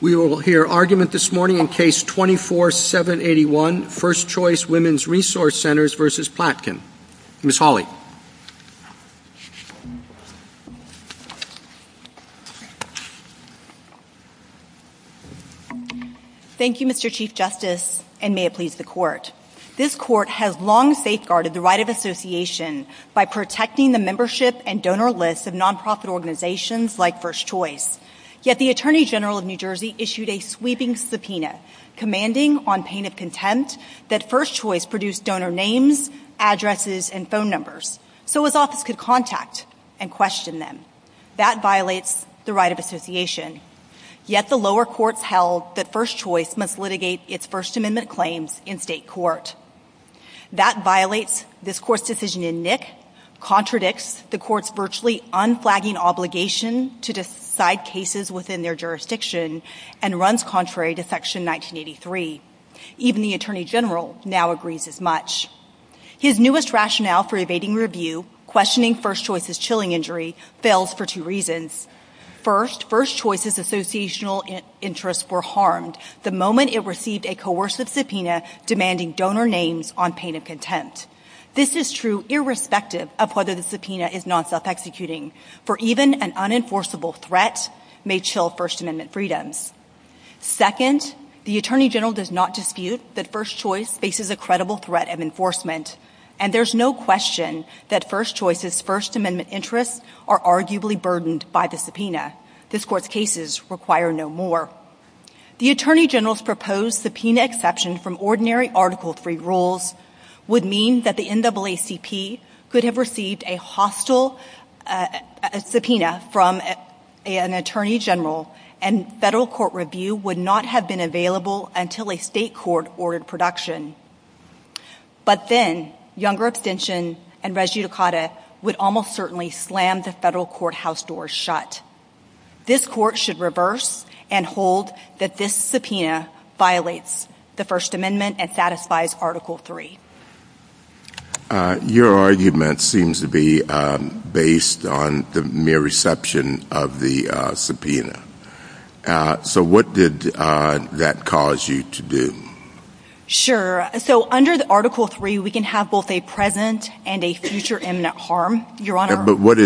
We will hear argument this morning in Case 24-781, First Choice Women's Resource Centers v. Platkin. Ms. Hawley. Thank you, Mr. Chief Justice, and may it please the Court. This Court has long safeguarded the right of association by protecting the membership and donor lists of nonprofit organizations like First Choice. Yet the Attorney General of New Jersey issued a sweeping subpoena commanding, on pain of contempt, that First Choice produce donor names, addresses, and phone numbers so his office could contact and question them. That violates the right of association. Yet the lower courts held that First Choice must litigate its First Amendment claims in state court. That violates this Court's decision in Nick, contradicts the Court's virtually unflagging obligation to decide cases within their jurisdiction, and runs contrary to Section 1983. Even the Attorney General now agrees as much. His newest rationale for evading review, questioning First Choice's chilling injury, fails for two reasons. First, First Choice's associational interests were harmed the moment it received a coercive subpoena demanding donor names on pain of contempt. This is true irrespective of whether the subpoena is non-self-executing, for even an unenforceable threat may chill First Amendment freedoms. Second, the Attorney General does not dispute that First Choice faces a credible threat of enforcement. And there's no question that First Choice's First Amendment interests are arguably burdened by the subpoena. This Court's cases require no more. The Attorney General's proposed subpoena exception from ordinary Article III rules would mean that the NAACP could have received a hostile subpoena from an Attorney General, and federal court review would not have been available until a state court ordered production. But then, younger abstention and res judicata would almost certainly slam the federal courthouse doors shut. This Court should reverse and hold that this subpoena violates the First Amendment and satisfies Article III. Your argument seems to be based on the mere reception of the subpoena. So what did that cause you to do? Sure. So under Article III, we can have both a present and a future imminent harm, Your Honor. But what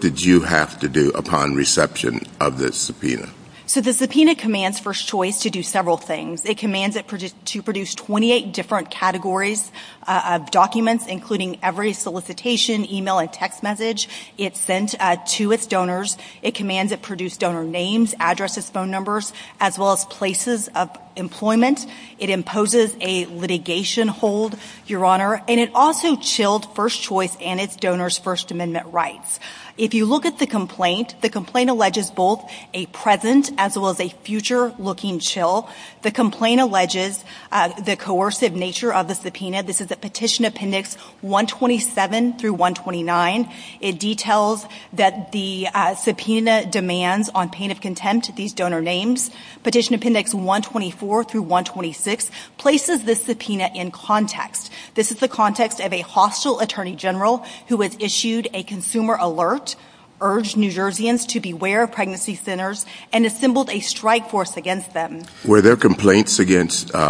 did you have to do upon reception of this subpoena? So the subpoena commands First Choice to do several things. It commands it to produce 28 different categories of documents, including every solicitation, email, and text message it sent to its donors. It commands it produce donor names, addresses, phone numbers, as well as places of employment. It imposes a litigation hold, Your Honor. And it also chilled First Choice and its donors' First Amendment rights. If you look at the complaint, the complaint alleges both a present as well as a future looking chill. The complaint alleges the coercive nature of the subpoena. This is a Petition Appendix 127 through 129. It details that the subpoena demands on pain of contempt these donor names. Petition Appendix 124 through 126 places this subpoena in context. This is the context of a hostile attorney general who has issued a consumer alert, urged New Jerseyans to beware of pregnancy centers, and assembled a strike force against them. Were there complaints against you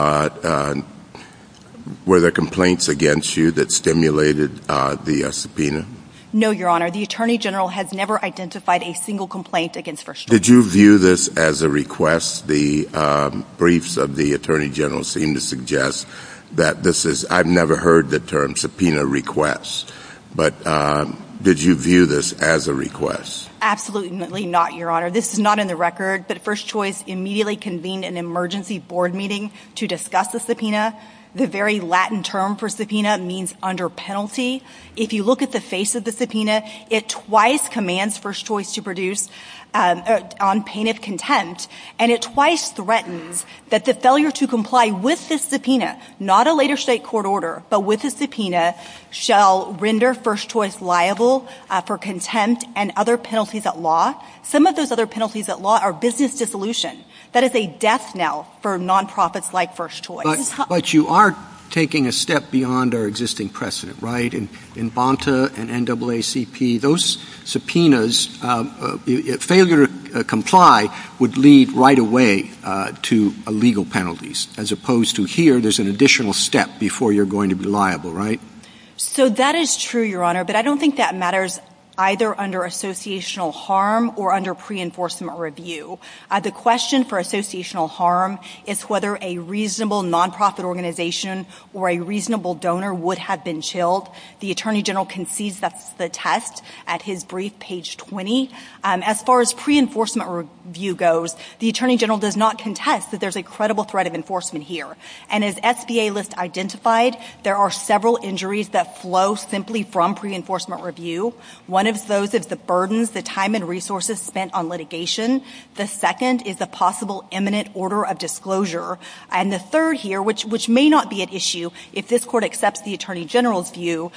that stimulated the subpoena? No, Your Honor. The attorney general has never identified a single complaint against First Choice. Did you view this as a request? The briefs of the attorney general seem to suggest that this is – I've never heard the term subpoena request. But did you view this as a request? Absolutely not, Your Honor. This is not in the record, but First Choice immediately convened an emergency board meeting to discuss the subpoena. The very Latin term for subpoena means under penalty. If you look at the face of the subpoena, it twice commands First Choice to produce on pain of contempt, and it twice threatens that the failure to comply with this subpoena, not a later state court order, but with the subpoena, shall render First Choice liable for contempt and other penalties at law. Some of those other penalties at law are business dissolution. That is a death knell for nonprofits like First Choice. But you are taking a step beyond our existing precedent, right? In Bonta and NAACP, those subpoenas, failure to comply would lead right away to illegal penalties, as opposed to here, there's an additional step before you're going to be liable, right? So that is true, Your Honor, but I don't think that matters either under associational harm or under pre-enforcement review. The question for associational harm is whether a reasonable nonprofit organization or a reasonable donor would have been chilled. The Attorney General concedes the test at his brief, page 20. As far as pre-enforcement review goes, the Attorney General does not contest that there's a credible threat of enforcement here. And as SBA lists identified, there are several injuries that flow simply from pre-enforcement review. One of those is the burdens, the time and resources spent on litigation. The second is a possible imminent order of disclosure. And the third here, which may not be an issue if this court accepts the Attorney General's view,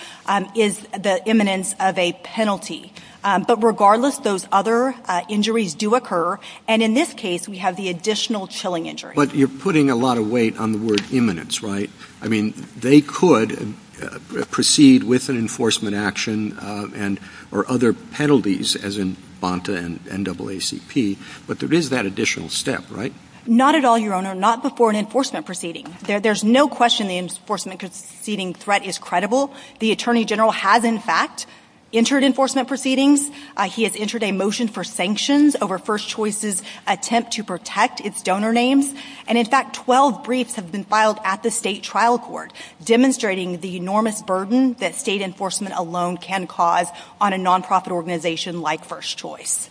is the imminence of a penalty. But regardless, those other injuries do occur. And in this case, we have the additional chilling injury. But you're putting a lot of weight on the word imminence, right? I mean, they could proceed with an enforcement action or other penalties, as in BANTA and NAACP, but there is that additional step, right? Not at all, Your Honor, not before an enforcement proceeding. There's no question the enforcement proceeding threat is credible. The Attorney General has, in fact, entered enforcement proceedings. He has entered a motion for sanctions over First Choice's attempt to protect its donor names. And, in fact, 12 briefs have been filed at the state trial court, demonstrating the enormous burden that state enforcement alone can cause on a nonprofit organization like First Choice.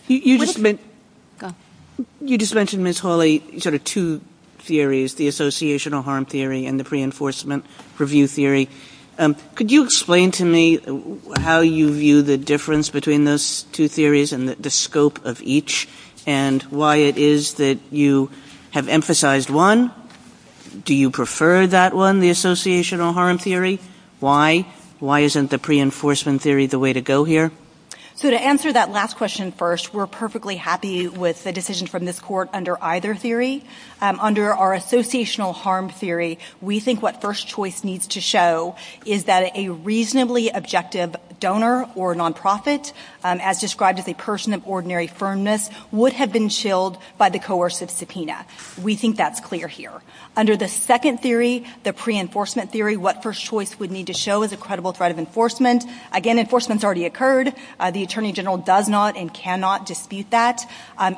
You just mentioned, Ms. Hawley, sort of two theories, the associational harm theory and the pre-enforcement review theory. Could you explain to me how you view the difference between those two theories and the scope of each, and why it is that you have emphasized one? Do you prefer that one, the associational harm theory? Why? Why isn't the pre-enforcement theory the way to go here? So to answer that last question first, we're perfectly happy with the decision from this court under either theory. Under our associational harm theory, we think what First Choice needs to show is that a reasonably objective donor or nonprofit, as described as a person of ordinary firmness, would have been shilled by the coercive subpoena. We think that's clear here. Under the second theory, the pre-enforcement theory, what First Choice would need to show is a credible threat of enforcement. Again, enforcement's already occurred. The Attorney General does not and cannot dispute that.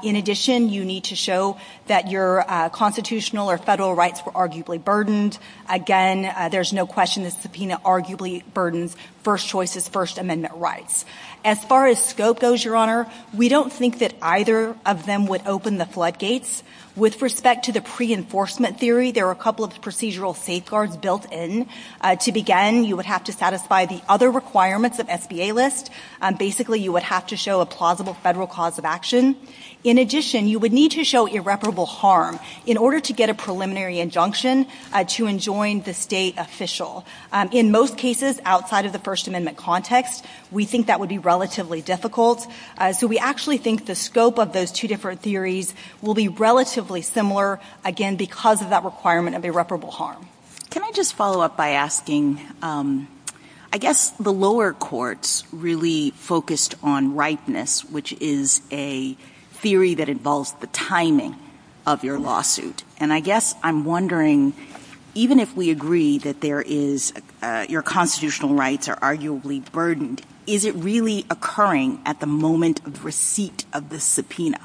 In addition, you need to show that your constitutional or federal rights were arguably burdened. Again, there's no question the subpoena arguably burdens First Choice's First Amendment rights. As far as scope goes, Your Honor, we don't think that either of them would open the floodgates. With respect to the pre-enforcement theory, there are a couple of procedural safeguards built in. To begin, you would have to satisfy the other requirements of SBA list. Basically, you would have to show a plausible federal cause of action. In addition, you would need to show irreparable harm in order to get a preliminary injunction to enjoin the state official. In most cases, outside of the First Amendment context, we think that would be relatively difficult. So we actually think the scope of those two different theories will be relatively similar, again, because of that requirement of irreparable harm. Can I just follow up by asking, I guess the lower courts really focused on rightness, which is a theory that involves the timing of your lawsuit. And I guess I'm wondering, even if we agree that your constitutional rights are arguably burdened, is it really occurring at the moment of receipt of the subpoena?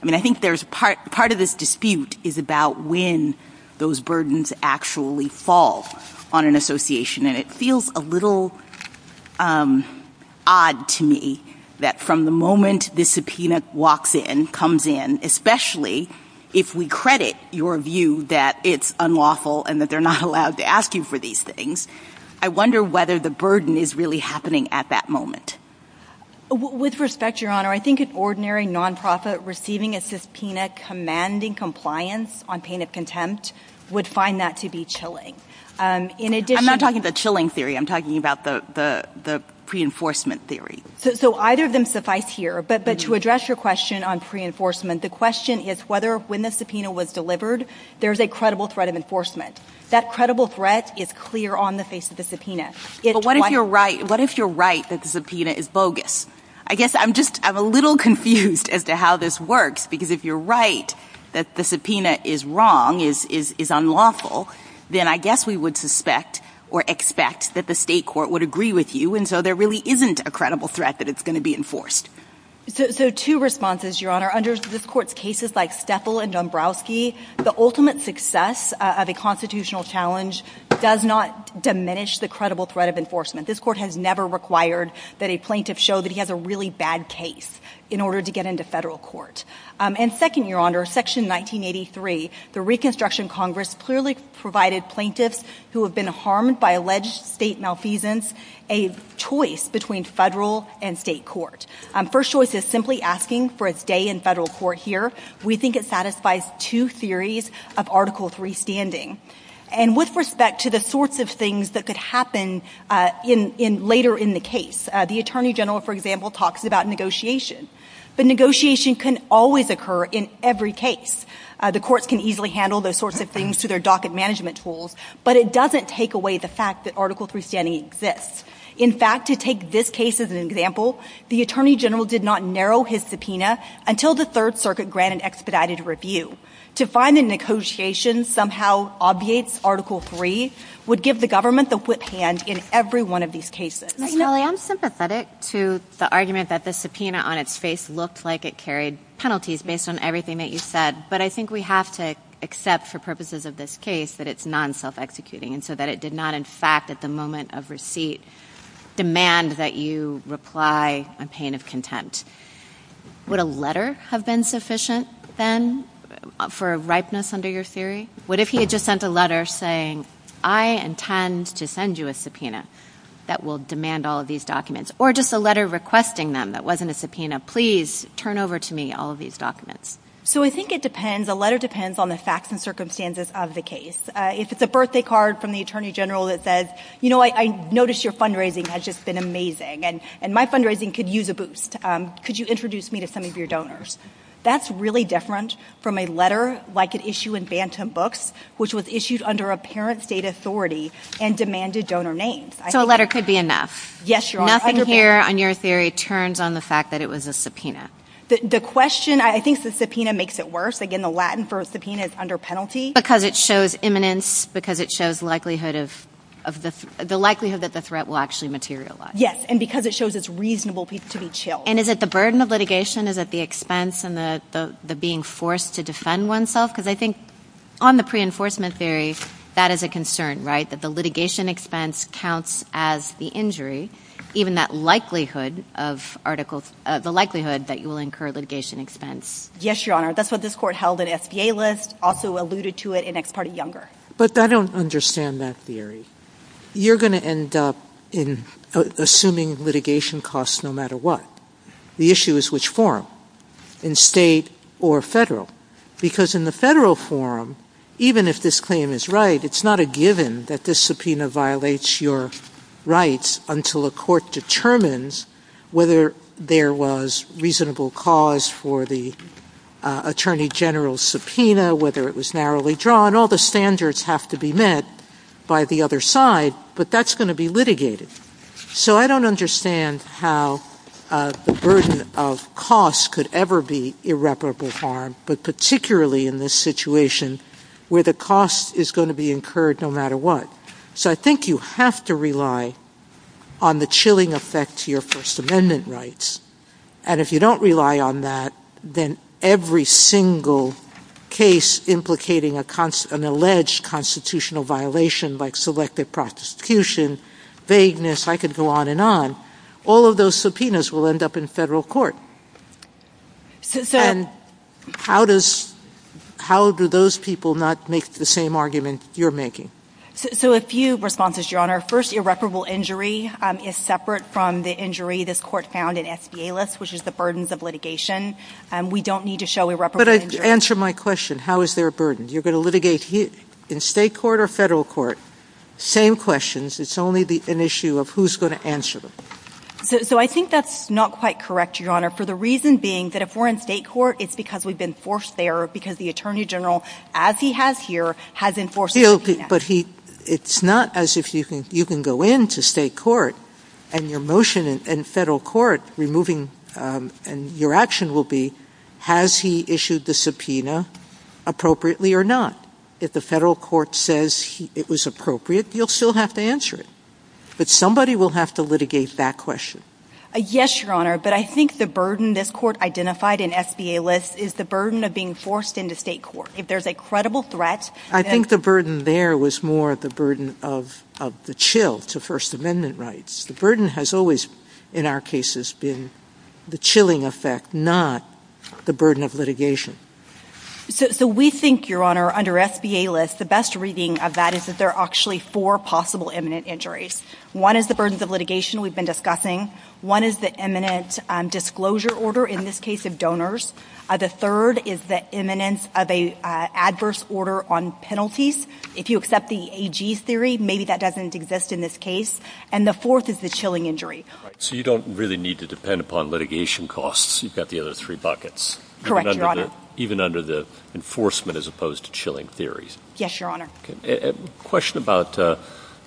I mean, I think part of this dispute is about when those burdens actually fall on an association. And it feels a little odd to me that from the moment the subpoena comes in, especially if we credit your view that it's unlawful and that they're not allowed to ask you for these things, I wonder whether the burden is really happening at that moment. With respect, Your Honor, I think an ordinary nonprofit receiving a subpoena commanding compliance on pain of contempt would find that to be chilling. I'm not talking about the chilling theory. I'm talking about the pre-enforcement theory. So either of them suffice here. But to address your question on pre-enforcement, the question is whether when the subpoena was delivered, there's a credible threat of enforcement. That credible threat is clear on the face of the subpoena. But what if you're right that the subpoena is bogus? I guess I'm just a little confused as to how this works. Because if you're right that the subpoena is wrong, is unlawful, then I guess we would suspect or expect that the state court would agree with you. And so there really isn't a credible threat that it's going to be enforced. So two responses, Your Honor. Under this court's cases like Stethel and Dombrowski, the ultimate success of a constitutional challenge does not diminish the credible threat of enforcement. This court has never required that a plaintiff show that he has a really bad case in order to get into federal court. And second, Your Honor, Section 1983, the Reconstruction Congress clearly provided plaintiffs who have been harmed by alleged state malfeasance a choice between federal and state court. First choice is simply asking for a stay in federal court here. We think it satisfies two theories of Article III standing. And with respect to the sorts of things that could happen later in the case, the Attorney General, for example, talks about negotiation. But negotiation can always occur in every case. The courts can easily handle those sorts of things through their docket management tools, but it doesn't take away the fact that Article III standing exists. In fact, to take this case as an example, the Attorney General did not narrow his subpoena until the Third Circuit granted expedited review. To find a negotiation somehow obviates Article III would give the government the whip hand in every one of these cases. I am sympathetic to the argument that the subpoena on its face looked like it carried penalties based on everything that you said, but I think we have to accept for purposes of this case that it's non-self-executing and so that it did not in fact at the moment of receipt demand that you reply in pain of contempt. Would a letter have been sufficient then for a ripeness under your theory? What if he had just sent a letter saying, I intend to send you a subpoena that will demand all of these documents, or just a letter requesting them that wasn't a subpoena. Please turn over to me all of these documents. So I think it depends. A letter depends on the facts and circumstances of the case. If it's a birthday card from the Attorney General that says, you know, I noticed your fundraising has just been amazing and my fundraising could use a boost. Could you introduce me to some of your donors? That's really different from a letter like an issue in Bantam Books, which was issued under apparent state authority and demanded donor names. So a letter could be enough. Yes, you are. Nothing here on your theory turns on the fact that it was a subpoena. The question, I think the subpoena makes it worse. Again, the Latin for subpoena is under penalty. Because it shows imminence, because it shows the likelihood that the threat will actually materialize. Yes, and because it shows it's reasonable to be chilled. And is it the burden of litigation? Is it the expense and the being forced to defend oneself? Because I think on the pre-enforcement theory, that is a concern, right? That the litigation expense counts as the injury, even that likelihood that you will incur litigation expense. Yes, Your Honor. That's why this court held an SBA list, also alluded to it in Ex Parte Younger. But I don't understand that theory. You're going to end up in assuming litigation costs no matter what. The issue is which forum, in state or federal. Because in the federal forum, even if this claim is right, it's not a given that this subpoena violates your rights until a court determines whether there was reasonable cause for the attorney general's subpoena, whether it was narrowly drawn. All the standards have to be met by the other side. But that's going to be litigated. So I don't understand how the burden of costs could ever be irreparable harm, but particularly in this situation where the cost is going to be incurred no matter what. So I think you have to rely on the chilling effect to your First Amendment rights. And if you don't rely on that, then every single case implicating an alleged constitutional violation like selective prosecution, vagueness, I could go on and on, all of those subpoenas will end up in federal court. How do those people not make the same argument you're making? So a few responses, Your Honor. First, irreparable injury is separate from the injury this court found in SBA lists, which is the burdens of litigation. We don't need to show irreparable injury. But answer my question. How is there a burden? You're going to litigate in state court or federal court, same questions. It's only an issue of who's going to answer them. So I think that's not quite correct, Your Honor, for the reason being that if we're in state court, it's because we've been forced there because the Attorney General, as he has here, has enforced the subpoena. But it's not as if you can go into state court and your motion in federal court removing and your action will be has he issued the subpoena appropriately or not. If the federal court says it was appropriate, you'll still have to answer it. But somebody will have to litigate that question. Yes, Your Honor. But I think the burden this court identified in SBA lists is the burden of being forced into state court. If there's a credible threat. I think the burden there was more the burden of the chill to First Amendment rights. The burden has always, in our cases, been the chilling effect, not the burden of litigation. So we think, Your Honor, under SBA lists, the best reading of that is that there are actually four possible imminent injuries. One is the burdens of litigation we've been discussing. One is the imminent disclosure order, in this case of donors. The third is the imminence of an adverse order on penalties. If you accept the AG's theory, maybe that doesn't exist in this case. And the fourth is the chilling injury. So you don't really need to depend upon litigation costs. You've got the other three buckets. Correct, Your Honor. Even under the enforcement as opposed to chilling theory. Yes, Your Honor. A question about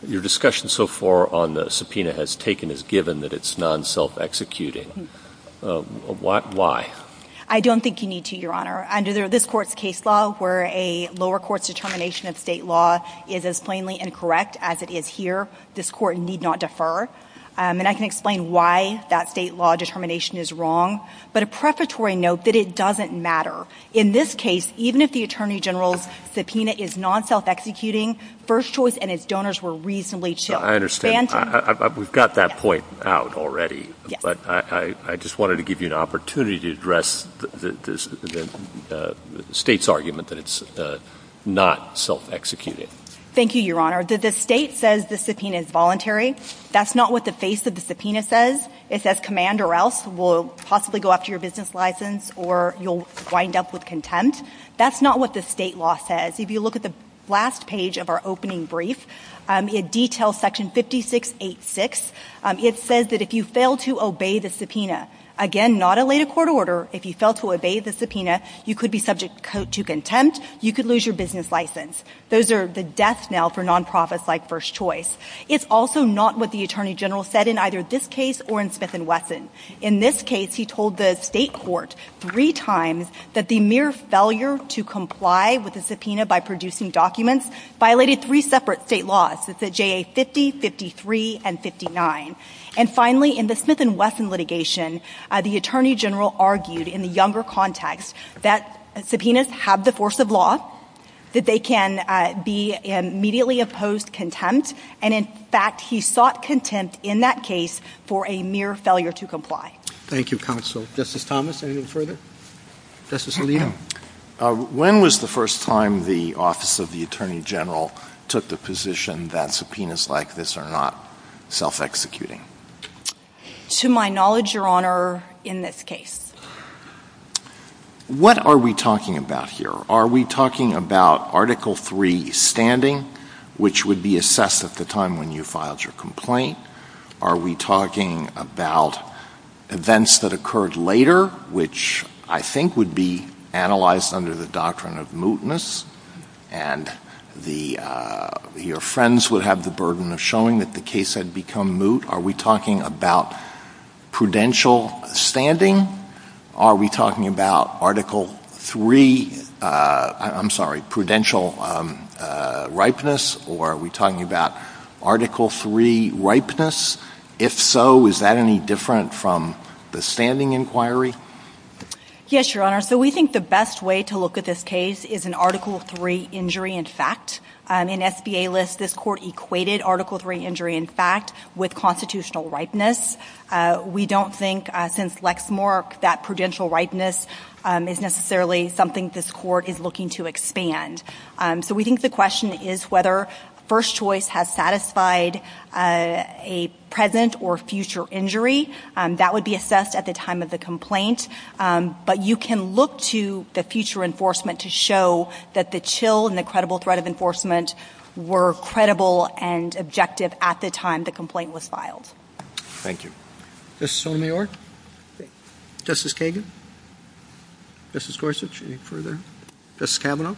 your discussion so far on the subpoena has taken as given that it's non-self-executing. Why? I don't think you need to, Your Honor. Under this court's case law, where a lower court's determination of state law is as plainly incorrect as it is here, this court need not defer. And I can explain why that state law determination is wrong. But a prefatory note that it doesn't matter. In this case, even if the Attorney General's subpoena is non-self-executing, first choice and if donors were reasonably chilled. I understand. We've got that point out already. But I just wanted to give you an opportunity to address the state's argument that it's not self-executing. Thank you, Your Honor. The state says the subpoena is voluntary. That's not what the face of the subpoena says. It says command or else will possibly go up to your business license or you'll wind up with contempt. That's not what the state law says. If you look at the last page of our opening brief, it details section 5686. It says that if you fail to obey the subpoena, again, not a later court order, if you fail to obey the subpoena, you could be subject to contempt, you could lose your business license. Those are the death knell for nonprofits like First Choice. It's also not what the Attorney General said in either this case or in Smith & Wesson. In this case, he told the state court three times that the mere failure to comply with the subpoena by producing documents violated three separate state laws. It's the JA 50, 53, and 59. And, finally, in the Smith & Wesson litigation, the Attorney General argued in the younger context that subpoenas have the force of law, that they can be immediately opposed contempt, and, in fact, he sought contempt in that case for a mere failure to comply. Thank you, Counsel. Justice Thomas, anything further? Justice Alito? When was the first time the Office of the Attorney General took the position that subpoenas like this are not self-executing? To my knowledge, Your Honor, in this case. What are we talking about here? Are we talking about Article III standing, which would be assessed at the time when you filed your complaint? Are we talking about events that occurred later, which I think would be analyzed under the doctrine of mootness, and your friends would have the burden of showing that the case had become moot? Are we talking about prudential standing? Are we talking about Article III, I'm sorry, prudential ripeness? Or are we talking about Article III ripeness? If so, is that any different from the standing inquiry? Yes, Your Honor. So we think the best way to look at this case is an Article III injury in fact. In SBA lists, this Court equated Article III injury in fact with constitutional ripeness. We don't think, since Lexmark, that prudential ripeness is necessarily something this Court is looking to expand. So we think the question is whether first choice has satisfied a present or future injury. That would be assessed at the time of the complaint. But you can look to the future enforcement to show that the chill and the credible threat of enforcement were credible and objective at the time the complaint was filed. Thank you. Justice Sotomayor? Justice Kagan? Justice Gorsuch, any further? Justice Kavanaugh?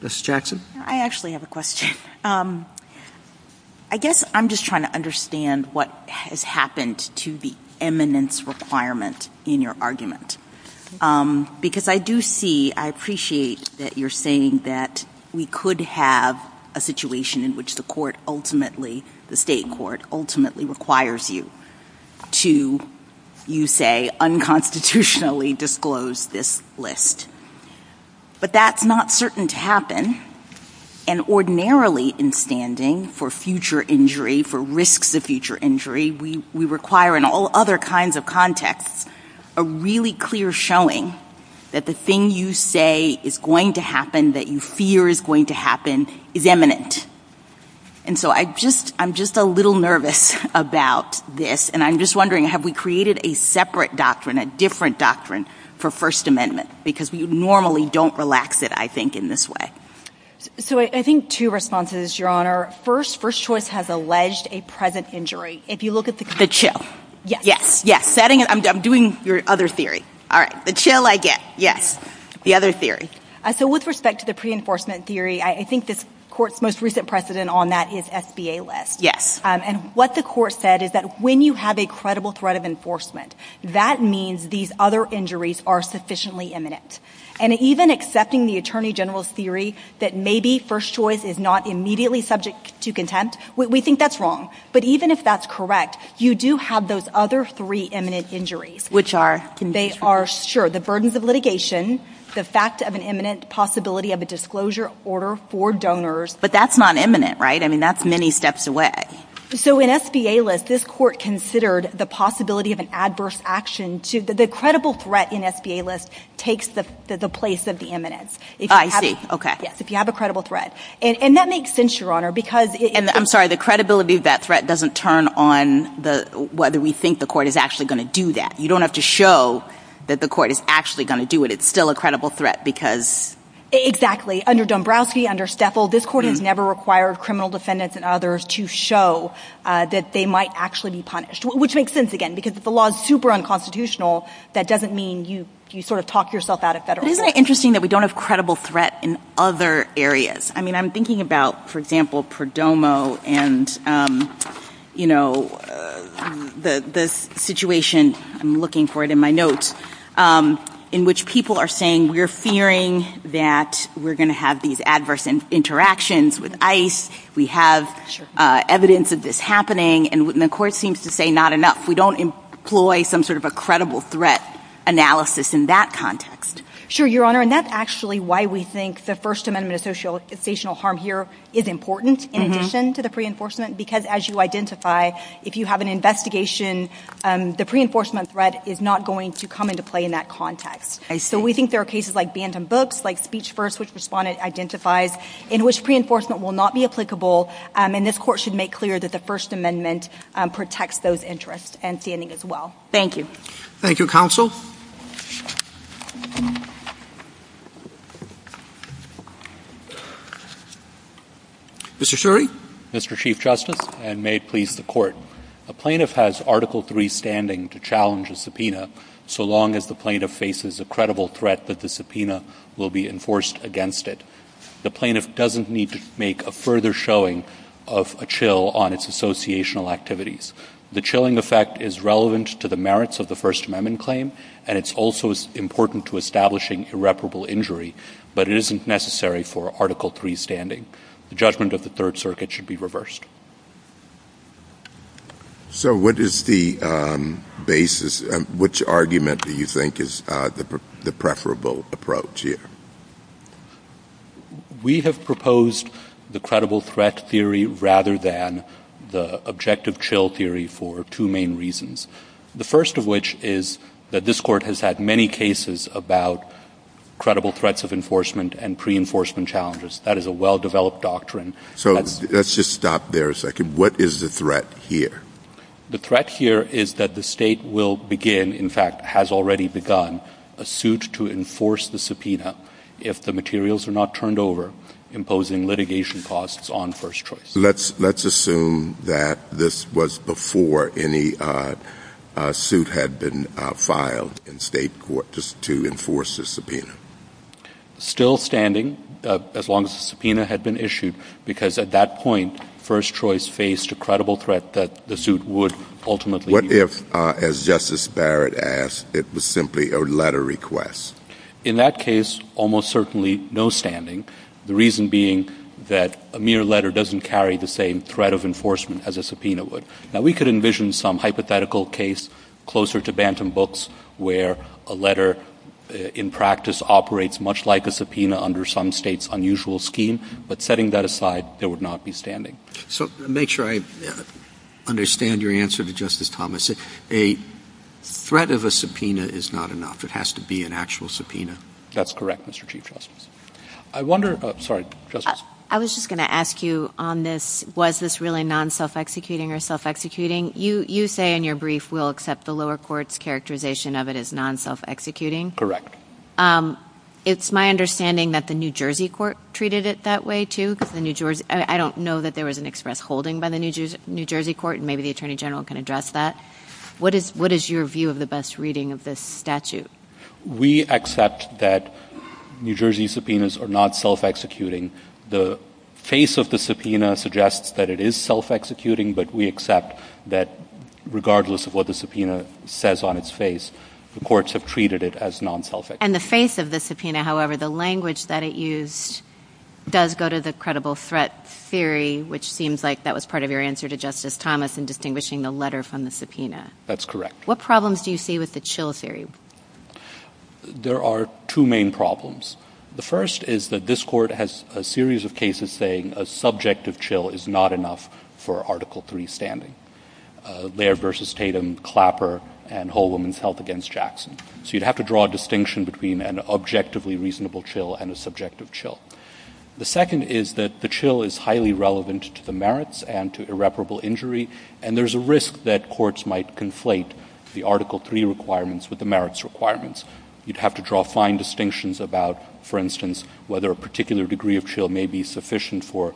Justice Jackson? I actually have a question. I guess I'm just trying to understand what has happened to the eminence requirement in your argument. Because I do see, I appreciate that you're saying that we could have a situation in which the State Court ultimately requires you to, you say, unconstitutionally disclose this list. But that's not certain to happen. And ordinarily in standing for future injury, for risks of future injury, we require in all other kinds of contexts a really clear showing that the thing you say is going to happen, that you fear is going to happen, is eminent. And so I'm just a little nervous about this. And I'm just wondering, have we created a separate doctrine, a different doctrine, for First Amendment? Because we normally don't relax it, I think, in this way. So I think two responses, Your Honor. First, first choice has alleged a present injury. If you look at the- The chill. Yes. Yes. I'm doing your other theory. All right. The chill I get. Yes. The other theory. So with respect to the pre-enforcement theory, I think this Court's most recent precedent on that is SBA-led. Yes. And what the Court said is that when you have a credible threat of enforcement, that means these other injuries are sufficiently eminent. And even accepting the Attorney General's theory that maybe first choice is not immediately subject to contempt, we think that's wrong. But even if that's correct, you do have those other three eminent injuries. Which are? They are, sure, the burdens of litigation, the fact of an eminent possibility of a disclosure order for donors. But that's not eminent, right? I mean, that's many steps away. So in SBA-less, this Court considered the possibility of an adverse action. The credible threat in SBA-less takes the place of the eminent. I see. Okay. Yes. If you have a credible threat. And that makes sense, Your Honor, because- And I'm sorry, the credibility of that threat doesn't turn on whether we think the Court is actually going to do that. You don't have to show that the Court is actually going to do it. It's still a credible threat because- Exactly. Under Dombrowski, under Steffel, this Court has never required criminal defendants and others to show that they might actually be punished. Which makes sense, again, because if the law is super unconstitutional, that doesn't mean you sort of talk yourself out of federalism. Isn't it interesting that we don't have credible threat in other areas? I mean, I'm thinking about, for example, Perdomo and, you know, the situation-I'm looking for it in my notes- in which people are saying we're fearing that we're going to have these adverse interactions with ICE. We have evidence of this happening, and the Court seems to say not enough. We don't employ some sort of a credible threat analysis in that context. Sure, Your Honor, and that's actually why we think the First Amendment associational harm here is important in addition to the pre-enforcement, because as you identify, if you have an investigation, the pre-enforcement threat is not going to come into play in that context. So we think there are cases like Bantam Books, like Speech First, which Respondent identifies, in which pre-enforcement will not be applicable, and this Court should make clear that the First Amendment protects those interests and standing as well. Thank you. Thank you, Counsel. Mr. Shuri. Mr. Chief Justice, and may it please the Court. A plaintiff has Article III standing to challenge a subpoena so long as the plaintiff faces a credible threat that the subpoena will be enforced against it. The plaintiff doesn't need to make a further showing of a chill on its associational activities. The chilling effect is relevant to the merits of the First Amendment claim, and it's also important to establishing irreparable injury, but it isn't necessary for Article III standing. The judgment of the Third Circuit should be reversed. So what is the basis, which argument do you think is the preferable approach here? We have proposed the credible threat theory rather than the objective chill theory for two main reasons. The first of which is that this Court has had many cases about credible threats of enforcement and pre-enforcement challenges. That is a well-developed doctrine. So let's just stop there a second. What is the threat here? The threat here is that the State will begin, in fact has already begun, a suit to enforce the subpoena if the materials are not turned over, imposing litigation costs on First Choice. Let's assume that this was before any suit had been filed in State court to enforce the subpoena. Still standing, as long as the subpoena had been issued, because at that point, First Choice faced a credible threat that the suit would ultimately... What if, as Justice Barrett asked, it was simply a letter request? In that case, almost certainly no standing. The reason being that a mere letter doesn't carry the same threat of enforcement as a subpoena would. Now we could envision some hypothetical case closer to Bantam Books where a letter in practice operates much like a subpoena under some State's unusual scheme, but setting that aside, there would not be standing. So to make sure I understand your answer to Justice Thomas, a threat of a subpoena is not enough. It has to be an actual subpoena. That's correct, Mr. Chief Justice. I was just going to ask you on this, was this really non-self-executing or self-executing? You say in your brief we'll accept the lower court's characterization of it as non-self-executing. Correct. It's my understanding that the New Jersey court treated it that way too. I don't know that there was an express holding by the New Jersey court, and maybe the Attorney General can address that. What is your view of the best reading of this statute? We accept that New Jersey subpoenas are not self-executing. The face of the subpoena suggests that it is self-executing, but we accept that regardless of what the subpoena says on its face, the courts have treated it as non-self-executing. And the face of the subpoena, however, the language that it used, does go to the credible threat theory, which seems like that was part of your answer to Justice Thomas in distinguishing the letter from the subpoena. That's correct. What problems do you see with the chill theory? There are two main problems. The first is that this court has a series of cases saying a subject of chill is not enough for Article III standing, Laird v. Tatum, Clapper, and Whole Woman's Health v. Jackson. So you'd have to draw a distinction between an objectively reasonable chill and a subjective chill. The second is that the chill is highly relevant to the merits and to irreparable injury, and there's a risk that courts might conflate the Article III requirements with the merits requirements. You'd have to draw fine distinctions about, for instance, whether a particular degree of chill may be sufficient for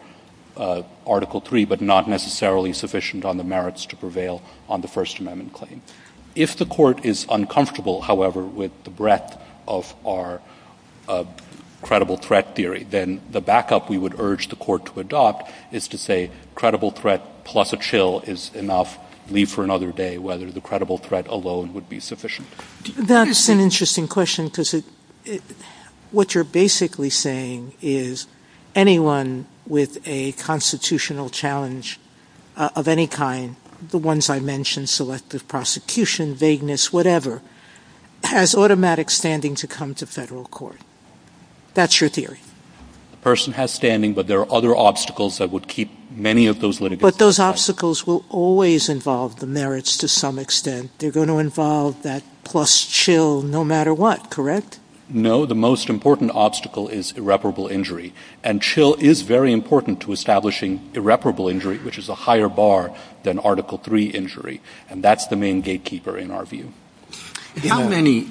Article III but not necessarily sufficient on the merits to prevail on the First Amendment claim. If the court is uncomfortable, however, with the breadth of our credible threat theory, then the backup we would urge the court to adopt is to say credible threat plus a chill is enough, leave for another day, whether the credible threat alone would be sufficient. That's an interesting question because what you're basically saying is anyone with a constitutional challenge of any kind, the ones I mentioned, selective prosecution, vagueness, whatever, has automatic standing to come to federal court. That's your theory. A person has standing, but there are other obstacles that would keep many of those litigants... But those obstacles will always involve the merits to some extent. They're going to involve that plus chill no matter what, correct? No, the most important obstacle is irreparable injury, and chill is very important to establishing irreparable injury, which is a higher bar than Article III injury, and that's the main gatekeeper in our view. How many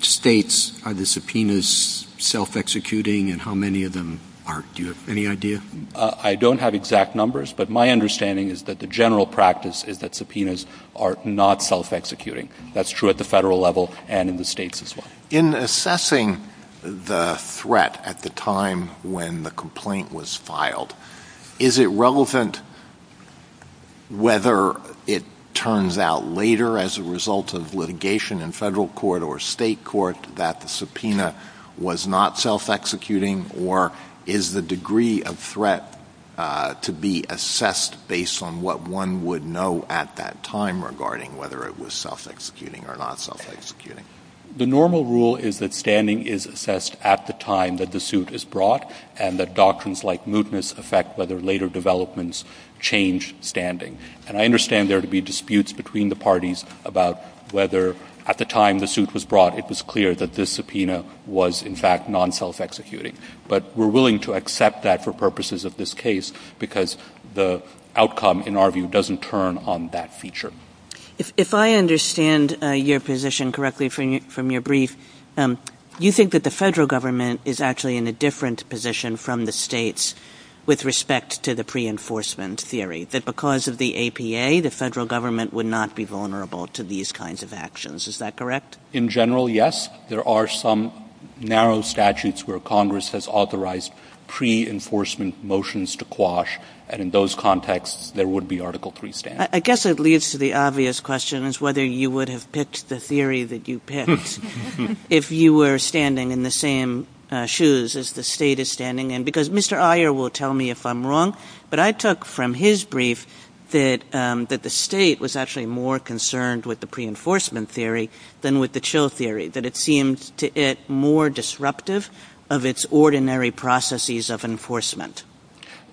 states are the subpoenas self-executing and how many of them are? Do you have any idea? I don't have exact numbers, but my understanding is that the general practice is that subpoenas are not self-executing. That's true at the federal level and in the states as well. In assessing the threat at the time when the complaint was filed, is it relevant whether it turns out later as a result of litigation in federal court or state court that the subpoena was not self-executing, or is the degree of threat to be assessed based on what one would know at that time regarding whether it was self-executing or not self-executing? The normal rule is that standing is assessed at the time that the suit is brought and that doctrines like mootness affect whether later developments change standing, and I understand there to be disputes between the parties about whether at the time the suit was brought it was clear that this subpoena was in fact non-self-executing, but we're willing to accept that for purposes of this case because the outcome in our view doesn't turn on that feature. If I understand your position correctly from your brief, you think that the federal government is actually in a different position from the states with respect to the pre-enforcement theory, that because of the APA the federal government would not be vulnerable to these kinds of actions. Is that correct? In general, yes. There are some narrow statutes where Congress has authorized pre-enforcement motions to quash, and in those contexts there would be Article III standing. I guess it leads to the obvious question as to whether you would have picked the theory that you picked if you were standing in the same shoes as the state is standing in, because Mr. Iyer will tell me if I'm wrong, but I took from his brief that the state was actually more concerned with the pre-enforcement theory than with the chill theory, that it seemed to it more disruptive of its ordinary processes of enforcement.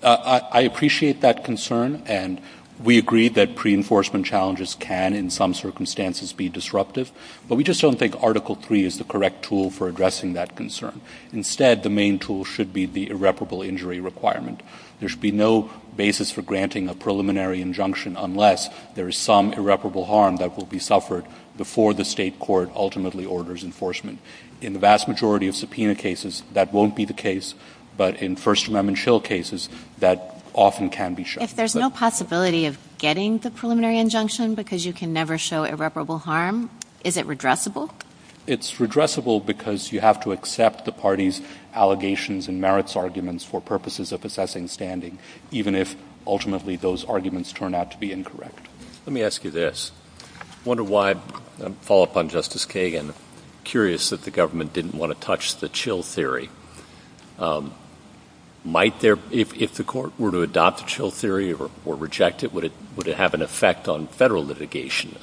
I appreciate that concern, and we agree that pre-enforcement challenges can in some circumstances be disruptive, but we just don't think Article III is the correct tool for addressing that concern. Instead, the main tool should be the irreparable injury requirement. There should be no basis for granting a preliminary injunction unless there is some irreparable harm that will be suffered before the state court ultimately orders enforcement. In the vast majority of subpoena cases that won't be the case, but in First Amendment chill cases, that often can be shown. If there's no possibility of getting the preliminary injunction because you can never show irreparable harm, is it redressable? It's redressable because you have to accept the party's allegations and merits arguments for purposes of assessing standing, even if ultimately those arguments turn out to be incorrect. Let me ask you this. I wonder why, and I'll follow up on Justice Kagan, I'm curious that the government didn't want to touch the chill theory. If the court were to adopt the chill theory or reject it, would it have an effect on federal litigation?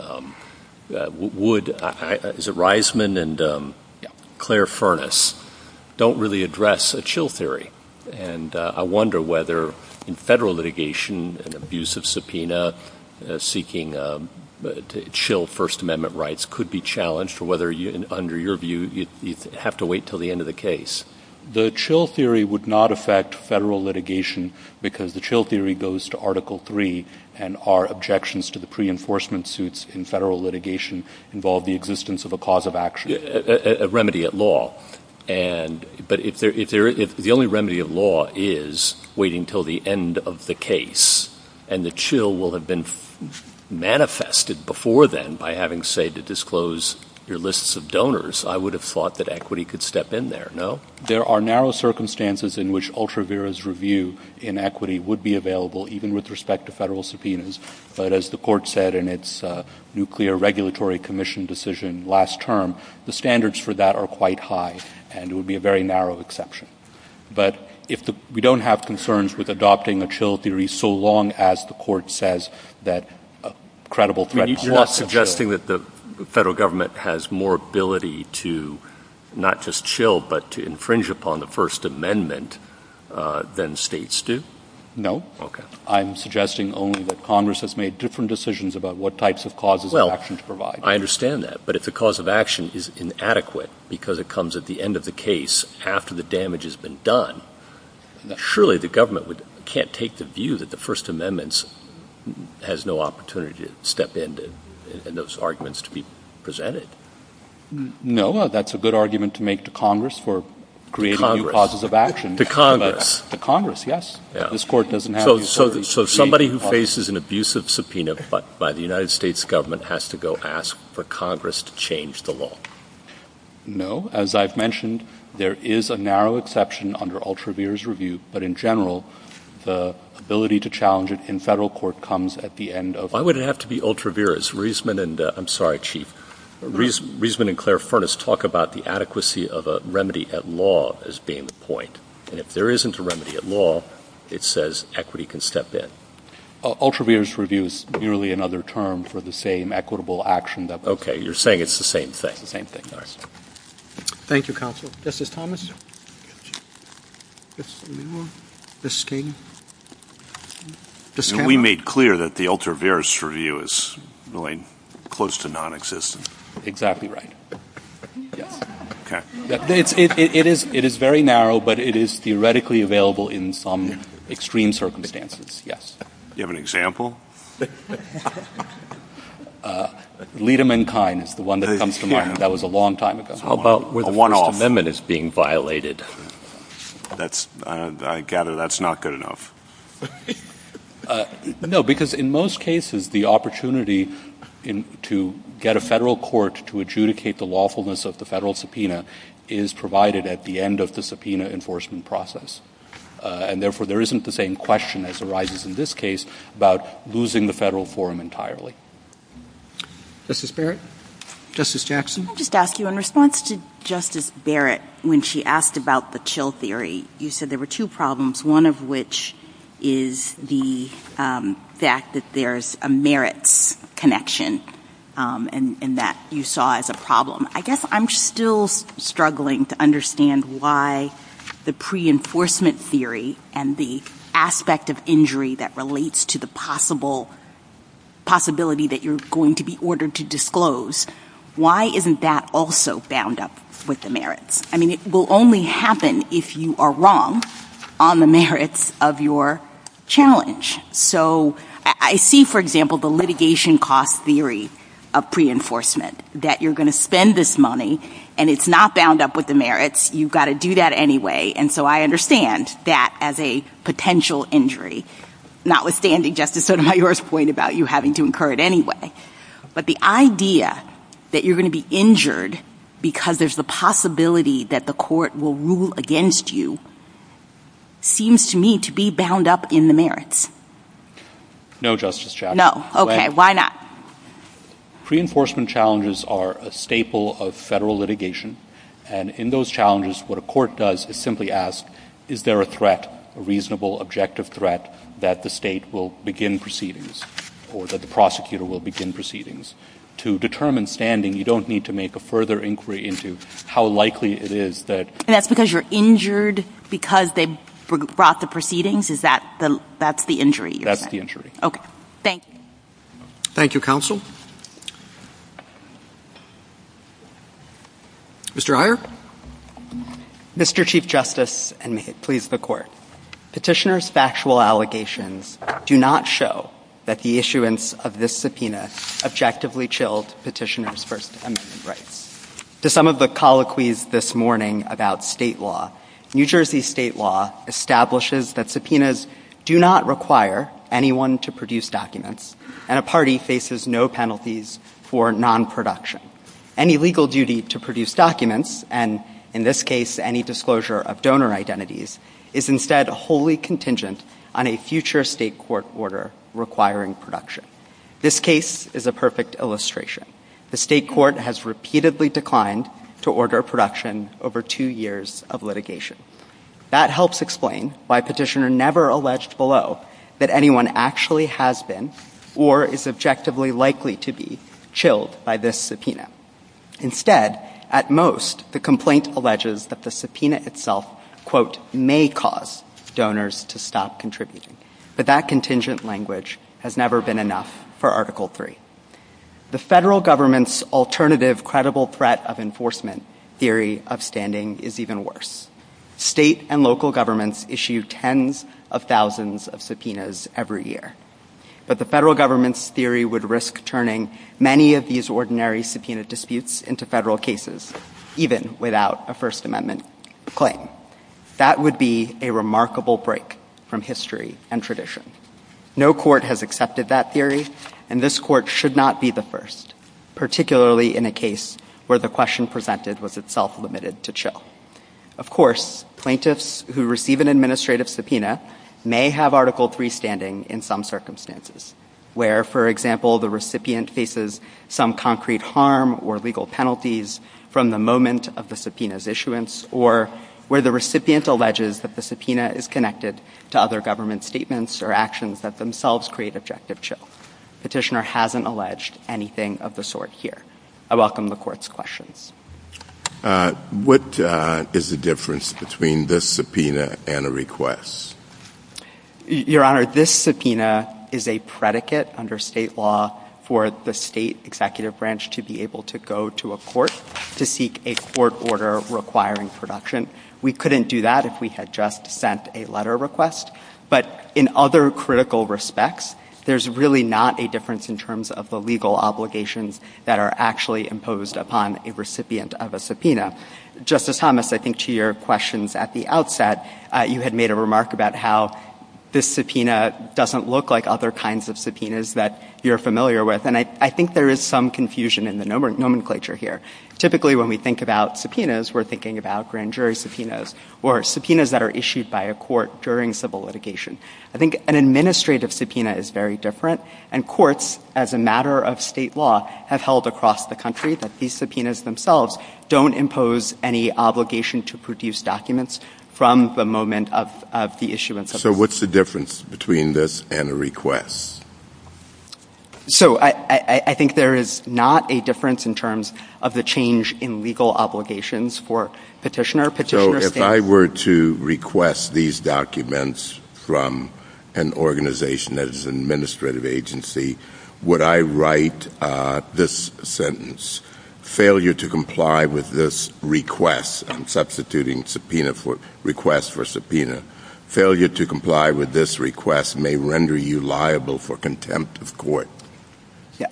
Would, is it Reisman and Claire Furness, don't really address a chill theory? And I wonder whether in federal litigation, an abusive subpoena seeking to chill First Amendment rights could be challenged or whether under your view you'd have to wait until the end of the case. The chill theory would not affect federal litigation because the chill theory goes to Article 3 and our objections to the pre-enforcement suits in federal litigation involve the existence of a cause of action. A remedy at law. But if the only remedy of law is waiting until the end of the case and the chill will have been manifested before then by having, say, to disclose your lists of donors, I would have thought that equity could step in there, no? There are narrow circumstances in which UltraVera's review in equity would be available, even with respect to federal subpoenas, but as the court said in its Nuclear Regulatory Commission decision last term, the standards for that are quite high and it would be a very narrow exception. But we don't have concerns with adopting a chill theory so long as the court says that a credible threat... You're not suggesting that the federal government has more ability to not just chill but to infringe upon the First Amendment than states do? No. Okay. I'm suggesting only that Congress has made different decisions about what types of causes of action to provide. Well, I understand that, but if the cause of action is inadequate because it comes at the end of the case after the damage has been done, surely the government can't take the view that the First Amendment has no opportunity to step in and those arguments to be presented. No, that's a good argument to make to Congress for creating new causes of action. To Congress, yes. So somebody who faces an abusive subpoena by the United States government has to go ask for Congress to change the law? As I've mentioned, there is a narrow exception under Ultraviere's review, but in general, the ability to challenge it in federal court comes at the end of... Why would it have to be Ultraviere's? Riesman and Claire Furness talk about the adequacy of a remedy at law as being the point. And if there isn't a remedy at law, it says equity can step in. Ultraviere's review is nearly another term for the same equitable action that... Okay, you're saying it's the same thing. Thank you, counsel. Justice Thomas? We made clear that the Ultraviere's review is really close to non-existent. Exactly right. It is very narrow, but it is theoretically available in some extreme circumstances, yes. Do you have an example? Liedemankind is the one that comes to mind. That was a long time ago. A one-off. The amendment is being violated. I gather that's not good enough. No, because in most cases, the opportunity to get a federal court to adjudicate the lawfulness of the federal subpoena is provided at the end of the subpoena enforcement process. And therefore, there isn't the same question as arises in this case about losing the federal forum entirely. Justice Barrett? Justice Jackson? I'll just ask you, in response to Justice Barrett, when she asked about the chill theory, you said there were two problems, one of which is the fact that there's a merits connection, and that you saw as a problem. I guess I'm still struggling to understand why the pre-enforcement theory and the aspect of injury that relates to the possibility that you're going to be ordered to disclose, why isn't that also bound up with the merits? I mean, it will only happen if you are wrong on the merits of your challenge. So I see, for example, the litigation cost theory of pre-enforcement, that you're going to spend this money, and it's not bound up with the merits. You've got to do that anyway. And so I understand that as a potential injury, notwithstanding Justice Sotomayor's point about you having to incur it anyway. But the idea that you're going to be injured because there's the possibility that the court will rule against you seems to me to be bound up in the merits. No, Justice Jackson. No? Okay, why not? Pre-enforcement challenges are a staple of federal litigation. And in those challenges, what a court does is simply ask, is there a threat, a reasonable, objective threat, that the state will begin proceedings or that the prosecutor will begin proceedings? To determine standing, you don't need to make a further inquiry into how likely it is that... That's because you're injured because they brought the proceedings? Is that the injury? That's the injury. Okay. Thank you. Thank you, counsel. Mr. Iyer? Mr. Chief Justice, and may it please the Court, petitioner's factual allegations do not show that the issuance of this subpoena objectively chilled petitioner's First Amendment rights. To some of the colloquies this morning about state law, New Jersey state law establishes that subpoenas do not require anyone to produce documents and a party faces no penalties for non-production. Any legal duty to produce documents, and in this case, any disclosure of donor identities, is instead wholly contingent on a future state court order requiring production. This case is a perfect illustration. The state court has repeatedly declined to order production over two years of litigation. That helps explain why petitioner never alleged below that anyone actually has been or is objectively likely to be chilled by this subpoena. Instead, at most, the complaint alleges that the subpoena itself quote, may cause donors to stop contributing. But that contingent language has never been enough for Article III. The federal government's alternative credible threat of enforcement theory of standing is even worse. State and local governments issue tens of thousands of subpoenas every year. But the federal government's theory would risk turning many of these ordinary subpoena disputes into federal cases, even without a First Amendment claim. That would be a remarkable break from history and tradition. No court has accepted that theory, and this court should not be the first, particularly in a case where the question presented was itself limited to chill. Of course, plaintiffs who receive an administrative subpoena may have Article III standing in some circumstances, where, for example, the recipient faces some concrete harm or legal penalties from the moment of the subpoena's issuance, or where the recipient alleges that the subpoena is connected to other government statements or actions that themselves create objective chills. Petitioner hasn't alleged anything of the sort here. I welcome the court's questions. What is the difference between this subpoena and a request? Your Honor, this subpoena is a predicate under state law for the state executive branch to be able to go to a court to seek a court order requiring production. We couldn't do that if we had just sent a letter request. But in other critical respects, there's really not a difference in terms of the legal obligations that are actually imposed upon a recipient of a subpoena. Justice Thomas, I think to your questions at the outset, you had made a remark about how this subpoena doesn't look like other kinds of subpoenas that you're familiar with, and I think there is some confusion in the nomenclature here. Typically, when we think about subpoenas, we're thinking about grand jury subpoenas or subpoenas that are issued by a court during civil litigation. I think an administrative subpoena is very different, and courts, as a matter of state law, have held across the country that these subpoenas themselves don't impose any obligation to produce documents from the moment of the issuance of them. So what's the difference between this and a request? So I think there is not a difference in terms of the change in legal obligations for petitioner. So if I were to request these documents from an organization that is an administrative agency, would I write this sentence, failure to comply with this request, I'm substituting request for subpoena, failure to comply with this request may render you liable for contempt of court.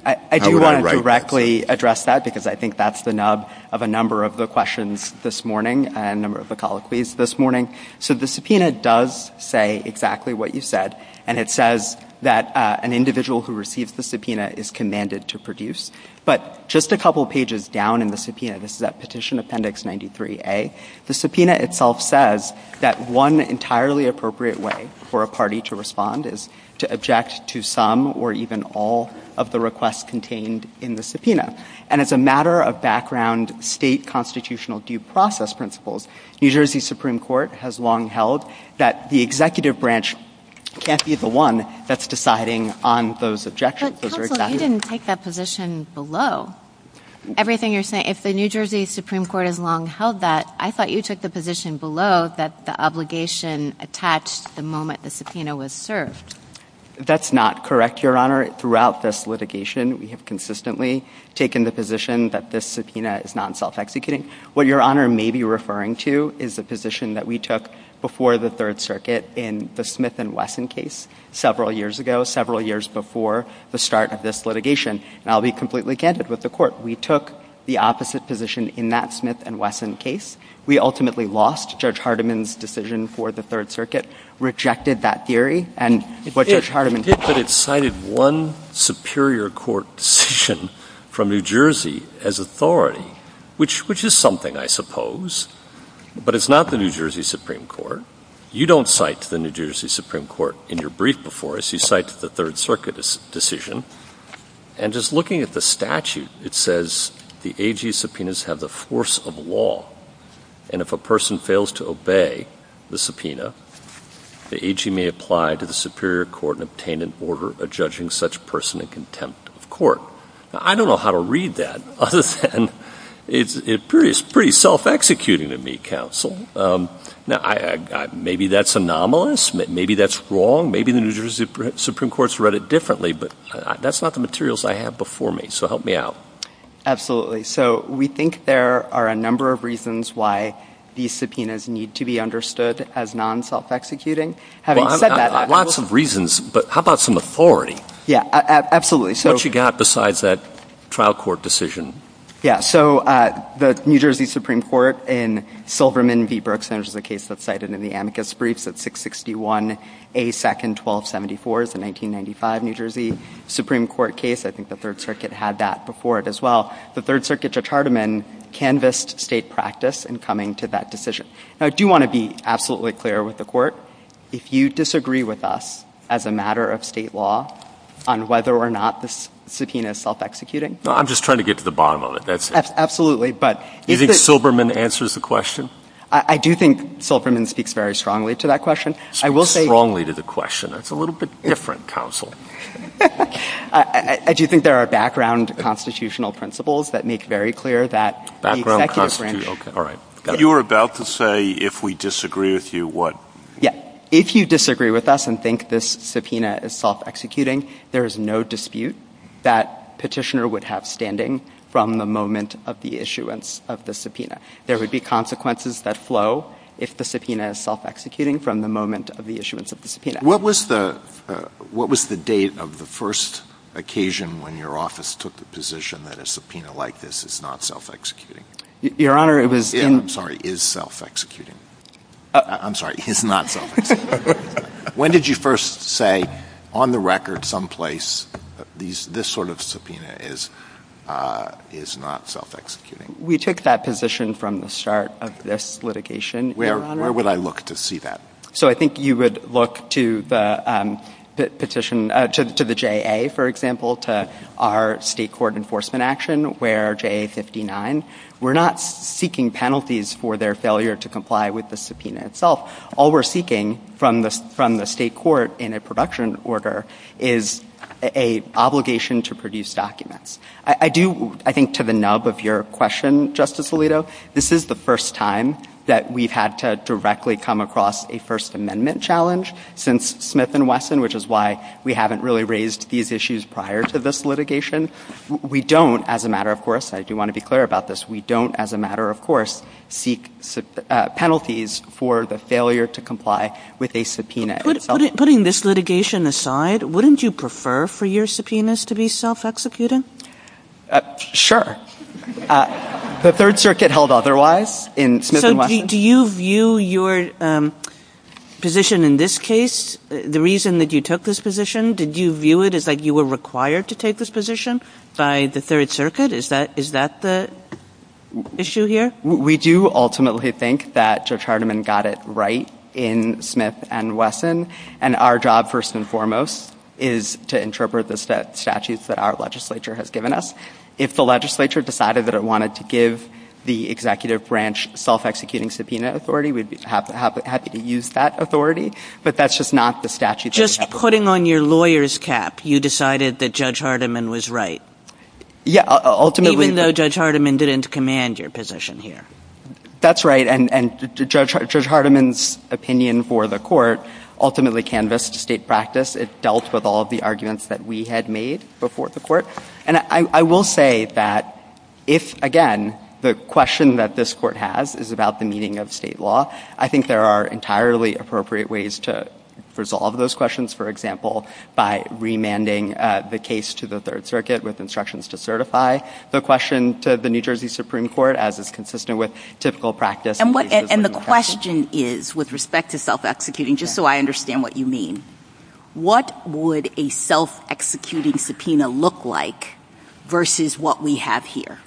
I do want to directly address that because I think that's the nub of a number of the questions this morning and a number of the colloquies this morning. So the subpoena does say exactly what you said, and it says that an individual who receives the subpoena is commanded to produce. But just a couple pages down in the subpoena, this is at Petition Appendix 93A, the subpoena itself says that one entirely appropriate way for a party to respond is to object to some or even all of the requests contained in the subpoena. And as a matter of background, state constitutional due process principles, New Jersey Supreme Court has long held that the executive branch can't be the one that's deciding on those objections. But counsel, I didn't take that position below. Everything you're saying, if the New Jersey Supreme Court has long held that, I thought you took the position below that the obligation attached the moment the subpoena was served. That's not correct, Your Honor. Throughout this litigation, we have consistently taken the position that this subpoena is not self-executing. What Your Honor may be referring to is the position that we took before the Third Circuit in the Smith and Wesson case several years ago, several years before the start of this litigation. And I'll be completely candid with the Court. We took the opposite position in that Smith and Wesson case. We ultimately lost Judge Hardiman's decision for the Third Circuit, rejected that theory, and what Judge Hardiman... I think that it cited one superior court decision from New Jersey as authority, which is something, I suppose. But it's not the New Jersey Supreme Court. You don't cite the New Jersey Supreme Court in your brief before us. You cite the Third Circuit decision. And just looking at the statute, it says the AG subpoenas have the force of law. And if a person fails to obey the subpoena, the AG may apply to the superior court and obtain an order of judging such person in contempt of court. Now, I don't know how to read that other than it's pretty self-executing to me, Counsel. Now, maybe that's anomalous. Maybe that's wrong. Maybe the New Jersey Supreme Court's read it differently. But that's not the materials I have before me, so help me out. So we think there are a number of reasons why these subpoenas need to be understood as non-self-executing. Lots of reasons, but how about some authority? Yeah, absolutely. What you got besides that trial court decision? Yeah, so the New Jersey Supreme Court in Silverman v. Berkson, which is a case that's cited in the amicus briefs, that 661A2-1274 is a 1995 New Jersey Supreme Court case. I think the Third Circuit had that before it as well. The Third Circuit to Charterman canvassed state practice in coming to that decision. Now, I do want to be absolutely clear with the Court. If you disagree with us as a matter of state law on whether or not this subpoena is self-executing... I'm just trying to get to the bottom of it. Absolutely, but... Do you think Silverman answers the question? I do think Silverman speaks very strongly to that question. Speaks strongly to the question. That's a little bit different counsel. I do think there are background constitutional principles that make very clear that... Background constitutional, all right. You were about to say, if we disagree with you, what? Yeah, if you disagree with us and think this subpoena is self-executing, there is no dispute that Petitioner would have standing from the moment of the issuance of the subpoena. There would be consequences that flow if the subpoena is self-executing from the moment of the issuance of the subpoena. What was the date of the first occasion when your office took the position that a subpoena like this is not self-executing? Your Honor, it was in... I'm sorry, is self-executing. I'm sorry, is not self-executing. When did you first say, on the record, someplace, this sort of subpoena is not self-executing? We took that position from the start of this litigation. Where would I look to see that? So I think you would look to the position, to the JA, for example, to our state court enforcement action, where JA 59, we're not seeking penalties for their failure to comply with the subpoena itself. All we're seeking from the state court in a production order is an obligation to produce documents. I do, I think, to the nub of your question, Justice Alito, this is the first time that we've had to directly come across a First Amendment challenge since Smith v. Wesson, which is why we haven't really raised these issues prior to this litigation. We don't, as a matter of course, I do want to be clear about this, we don't, as a matter of course, seek penalties for the failure to comply with a subpoena. Putting this litigation aside, wouldn't you prefer for your subpoenas to be self-executing? Sure. The Third Circuit held otherwise in Smith v. Wesson. Do you view your position in this case, the reason that you took this position, did you view it as like you were required to take this position by the Third Circuit? Is that the issue here? We do ultimately think that Judge Hardiman got it right in Smith v. Wesson, and our job, first and foremost, is to interpret the statutes that our legislature has given us. If the legislature decided that it wanted to give the Executive Branch self-executing subpoena authority, we'd be happy to use that authority, but that's just not the statute that we have. Just putting on your lawyer's cap, you decided that Judge Hardiman was right. Yeah, ultimately... That's right, and Judge Hardiman's opinion for the court ultimately canvassed state practice. It dealt with all of the arguments that we had made before the court, and I will say that if, again, the question that this court has is about the meeting of state law, I think there are entirely appropriate ways to resolve those questions, for example, by remanding the case to the Third Circuit with instructions to certify the question to the New Jersey Supreme Court, as is consistent with typical practice. And the question is, with respect to self-executing, just so I understand what you mean, what would a self-executing subpoena look like versus what we have here?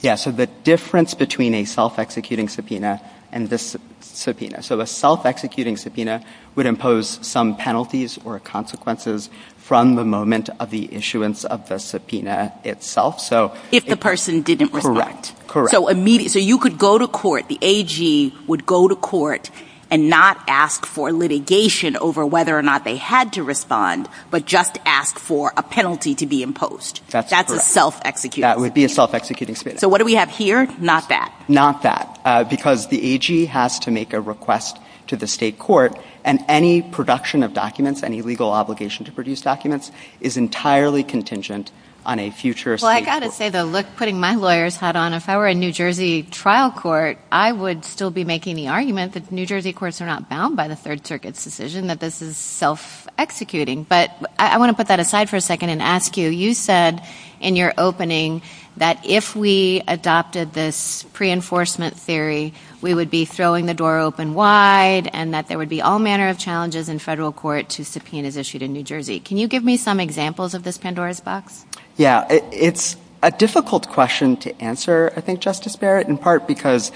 Yeah, so the difference between a self-executing subpoena and this subpoena. So a self-executing subpoena would impose some penalties or consequences from the moment of the issuance of the subpoena itself. If the person didn't respond. Correct. So you could go to court, the AG would go to court and not ask for litigation over whether or not they had to respond, but just ask for a penalty to be imposed. That's a self-executing subpoena. That would be a self-executing subpoena. So what do we have here? Not that. Not that, because the AG has to make a request to the state court, and any production of documents, any legal obligation to produce documents, is entirely contingent on a future state court. Well, I've got to say, putting my lawyer's hat on, if I were a New Jersey trial court, I would still be making the argument that New Jersey courts are not bound by the Third Circuit's decision that this is self-executing. But I want to put that aside for a second and ask you, you said in your opening that if we adopted this pre-enforcement theory, we would be throwing the door open wide and that there would be all manner of challenges in federal court to subpoenas issued in New Jersey. Can you give me some examples of this Pandora's box? Yeah, it's a difficult question to answer, I think, Justice Barrett, in part because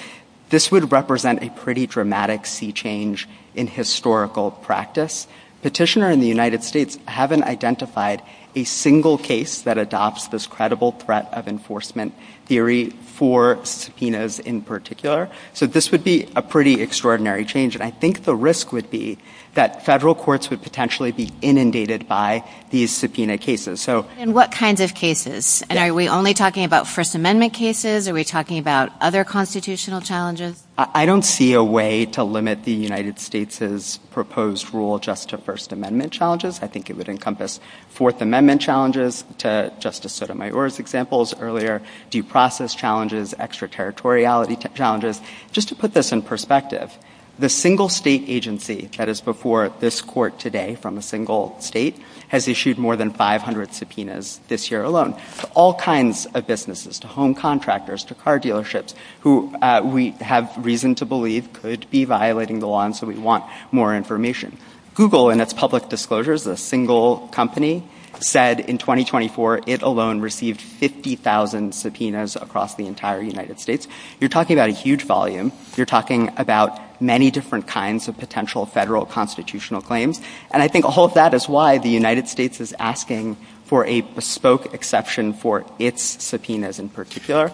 this would represent a pretty dramatic sea change in historical practice. Petitioners in the United States haven't identified a single case that adopts this credible threat of enforcement theory for subpoenas in particular. So this would be a pretty extraordinary change, and I think the risk would be that federal courts would potentially be inundated by these subpoena cases. And what kinds of cases? Are we only talking about First Amendment cases? Are we talking about other constitutional challenges? I don't see a way to limit the United States' proposed rule just to First Amendment challenges. I think it would encompass Fourth Amendment challenges to Justice Sotomayor's examples earlier, due process challenges, extraterritoriality challenges. Just to put this in perspective, the single state agency that is before this court today from a single state has issued more than 500 subpoenas this year alone to all kinds of businesses, to home contractors, to car dealerships, who we have reason to believe could be violating the law, and so we want more information. Google, in its public disclosures, the single company, said in 2024 it alone received 50,000 subpoenas across the entire United States. You're talking about a huge volume. You're talking about many different kinds of potential federal constitutional claims, and I think all of that is why the United States is asking for a bespoke exception for its subpoenas in particular.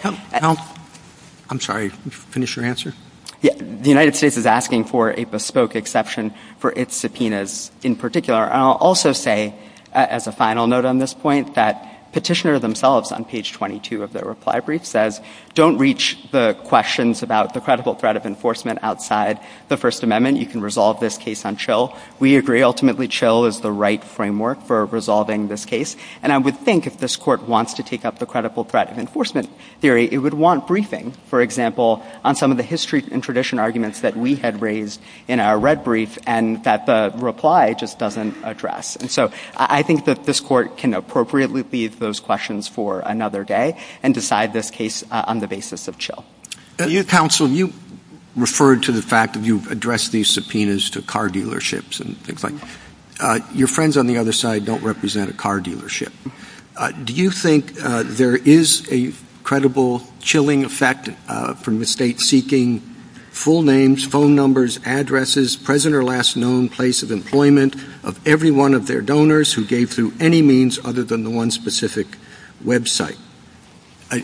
I'm sorry, finish your answer? Yeah, the United States is asking for a bespoke exception for its subpoenas in particular, and I'll also say, as a final note on this point, that petitioners themselves, on page 22 of their reply brief, says don't reach the questions about the credible threat of enforcement outside the First Amendment. You can resolve this case on chill. We agree, ultimately, chill is the right framework for resolving this case, and I would think if this court wants to take up the credible threat of enforcement theory, it would want briefing, for example, on some of the history and tradition arguments that we had raised in our red brief and that the reply just doesn't address, and so I think that this court can appropriately leave those questions for another day and decide this case on the basis of chill. Counsel, you referred to the fact that you've addressed these subpoenas to car dealerships and things like that. Your friends on the other side don't represent a car dealership. Do you think there is a credible chilling effect from the state seeking full names, phone numbers, addresses, present or last known place of employment of every one of their donors who gave through any means other than the one specific website?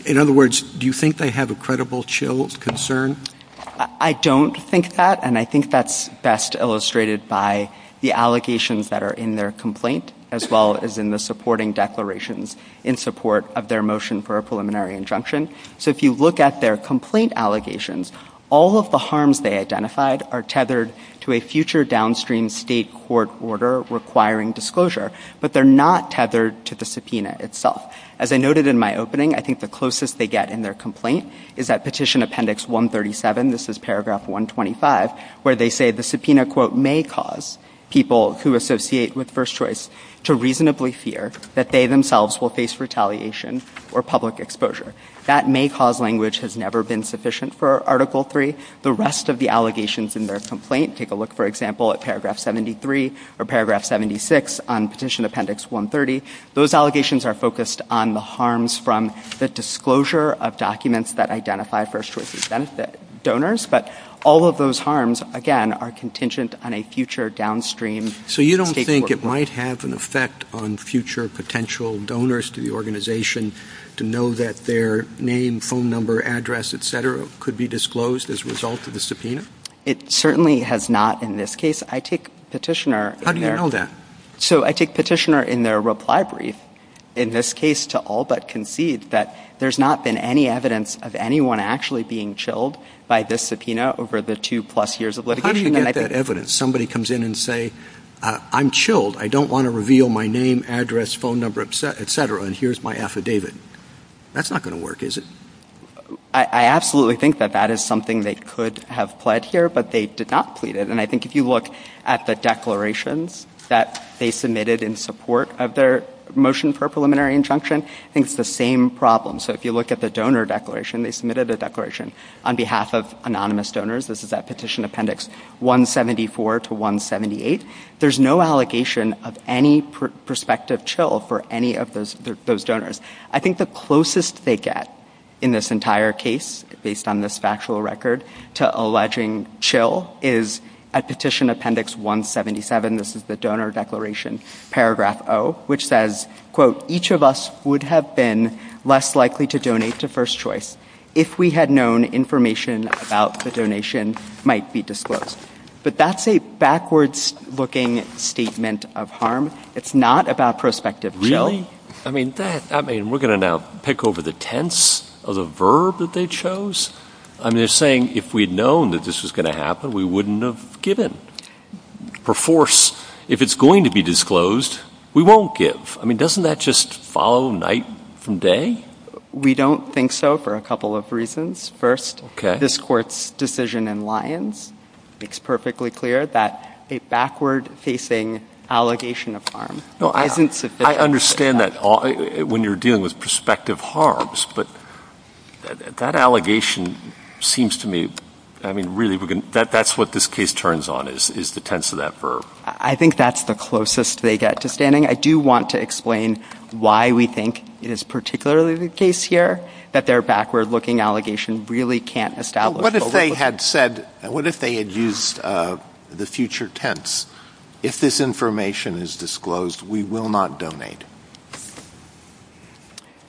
In other words, do you think they have a credible chill concern? I don't think that, and I think that's best illustrated by the allegations that are in their complaint as well as in the supporting declarations in support of their motion for a preliminary injunction. So if you look at their complaint allegations, all of the harms they identified are tethered to a future downstream state court order requiring disclosure, but they're not tethered to the subpoena itself. As I noted in my opening, I think the closest they get in their complaint is that Petition Appendix 137, this is Paragraph 125, where they say the subpoena quote may cause people who associate with First Choice to reasonably fear that they themselves will face retaliation or public exposure. That may cause language has never been sufficient for Article 3. The rest of the allegations in their complaint, take a look, for example, at Paragraph 73 or Paragraph 76 on Petition Appendix 130. Those allegations are focused on the harms from the disclosure of documents that identify First Choice donors, but all of those harms, again, are contingent on a future downstream state court order. So you don't think it might have an effect on future potential donors to the organization to know that their name, phone number, address, etc., could be disclosed as a result of the subpoena? It certainly has not in this case. I take Petitioner... How do you know that? So I take Petitioner in their reply brief, in this case, to all but concede that there's not been any evidence of anyone actually being chilled by this subpoena over the two-plus years of litigation. How do you get that evidence? Somebody comes in and say, I'm chilled. I don't want to reveal my name, address, phone number, etc., and here's my affidavit. That's not going to work, is it? I absolutely think that that is something they could have pled here, but they did not plead it. And I think if you look at the declarations that they submitted in support of their motion for preliminary injunction, I think it's the same problem. So if you look at the donor declaration, they submitted a declaration on behalf of anonymous donors. This is that Petition Appendix 174 to 178. There's no allegation of any prospective chill for any of those donors. I think the closest they get in this entire case, based on this factual record, to alleging chill is at Petition Appendix 177. This is the donor declaration, Paragraph O, which says, quote, each of us would have been less likely to donate to First Choice if we had known information about the donation might be disclosed. But that's a backwards-looking statement of harm. It's not about prospective chill. I mean, we're going to now pick over the tense of the verb that they chose? I mean, they're saying if we'd known that this was going to happen, we wouldn't have given. Perforce, if it's going to be disclosed, we won't give. I mean, doesn't that just follow night from day? We don't think so for a couple of reasons. First, this Court's decision in Lyons makes perfectly clear that a backward-facing allegation of harm. I understand that when you're dealing with prospective harms, but that allegation seems to me... I mean, really, that's what this case turns on, is the tense of that verb. I think that's the closest they get to standing. I do want to explain why we think it is particularly the case here that their backward-looking allegation really can't establish... What if they had said... What if they had used the future tense? If this information is disclosed, we will not donate.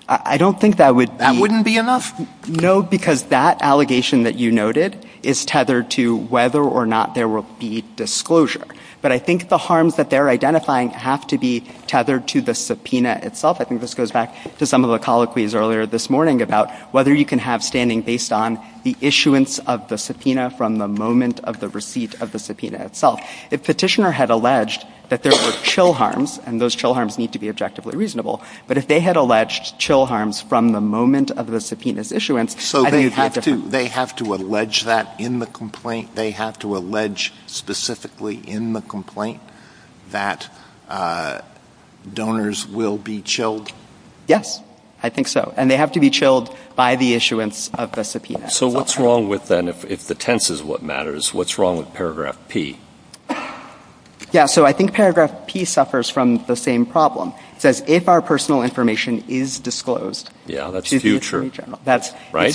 I don't think that would be... That wouldn't be enough? No, because that allegation that you noted is tethered to whether or not there will be disclosure. But I think the harms that they're identifying have to be tethered to the subpoena itself. I think this goes back to some of the colloquies earlier this morning about whether you can have standing based on the issuance of the subpoena from the moment of the receipt of the subpoena itself. If Petitioner had alleged that there were chill harms, and those chill harms need to be objectively reasonable, but if they had alleged chill harms from the moment of the subpoena's issuance... So they have to allege that in the complaint? They have to allege specifically in the complaint that donors will be chilled? Yes, I think so. And they have to be chilled by the issuance of the subpoena. So what's wrong with, then, if the tense is what matters, what's wrong with paragraph P? Yeah, so I think paragraph P suffers from the same problem. It says, if our personal information is disclosed... Yeah, that's future, right? That's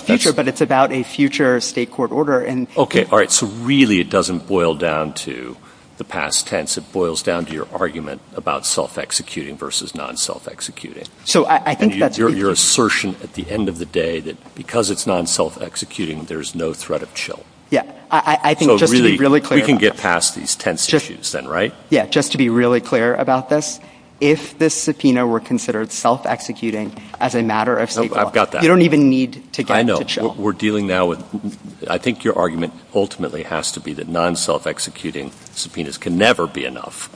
future, but it's about a future state court order. Okay, all right, so really it doesn't boil down to the past tense. It boils down to your argument about self-executing versus non-self-executing. And your assertion at the end of the day that because it's non-self-executing, there's no threat of chill. Yeah, I think just to be really clear... So really, we can get past these tense issues, then, right? Yeah, just to be really clear about this, if this subpoena were considered self-executing as a matter of state law. I've got that. You don't even need to get it to chill. I know. We're dealing now with... I think your argument ultimately has to be that non-self-executing subpoenas can never be enough.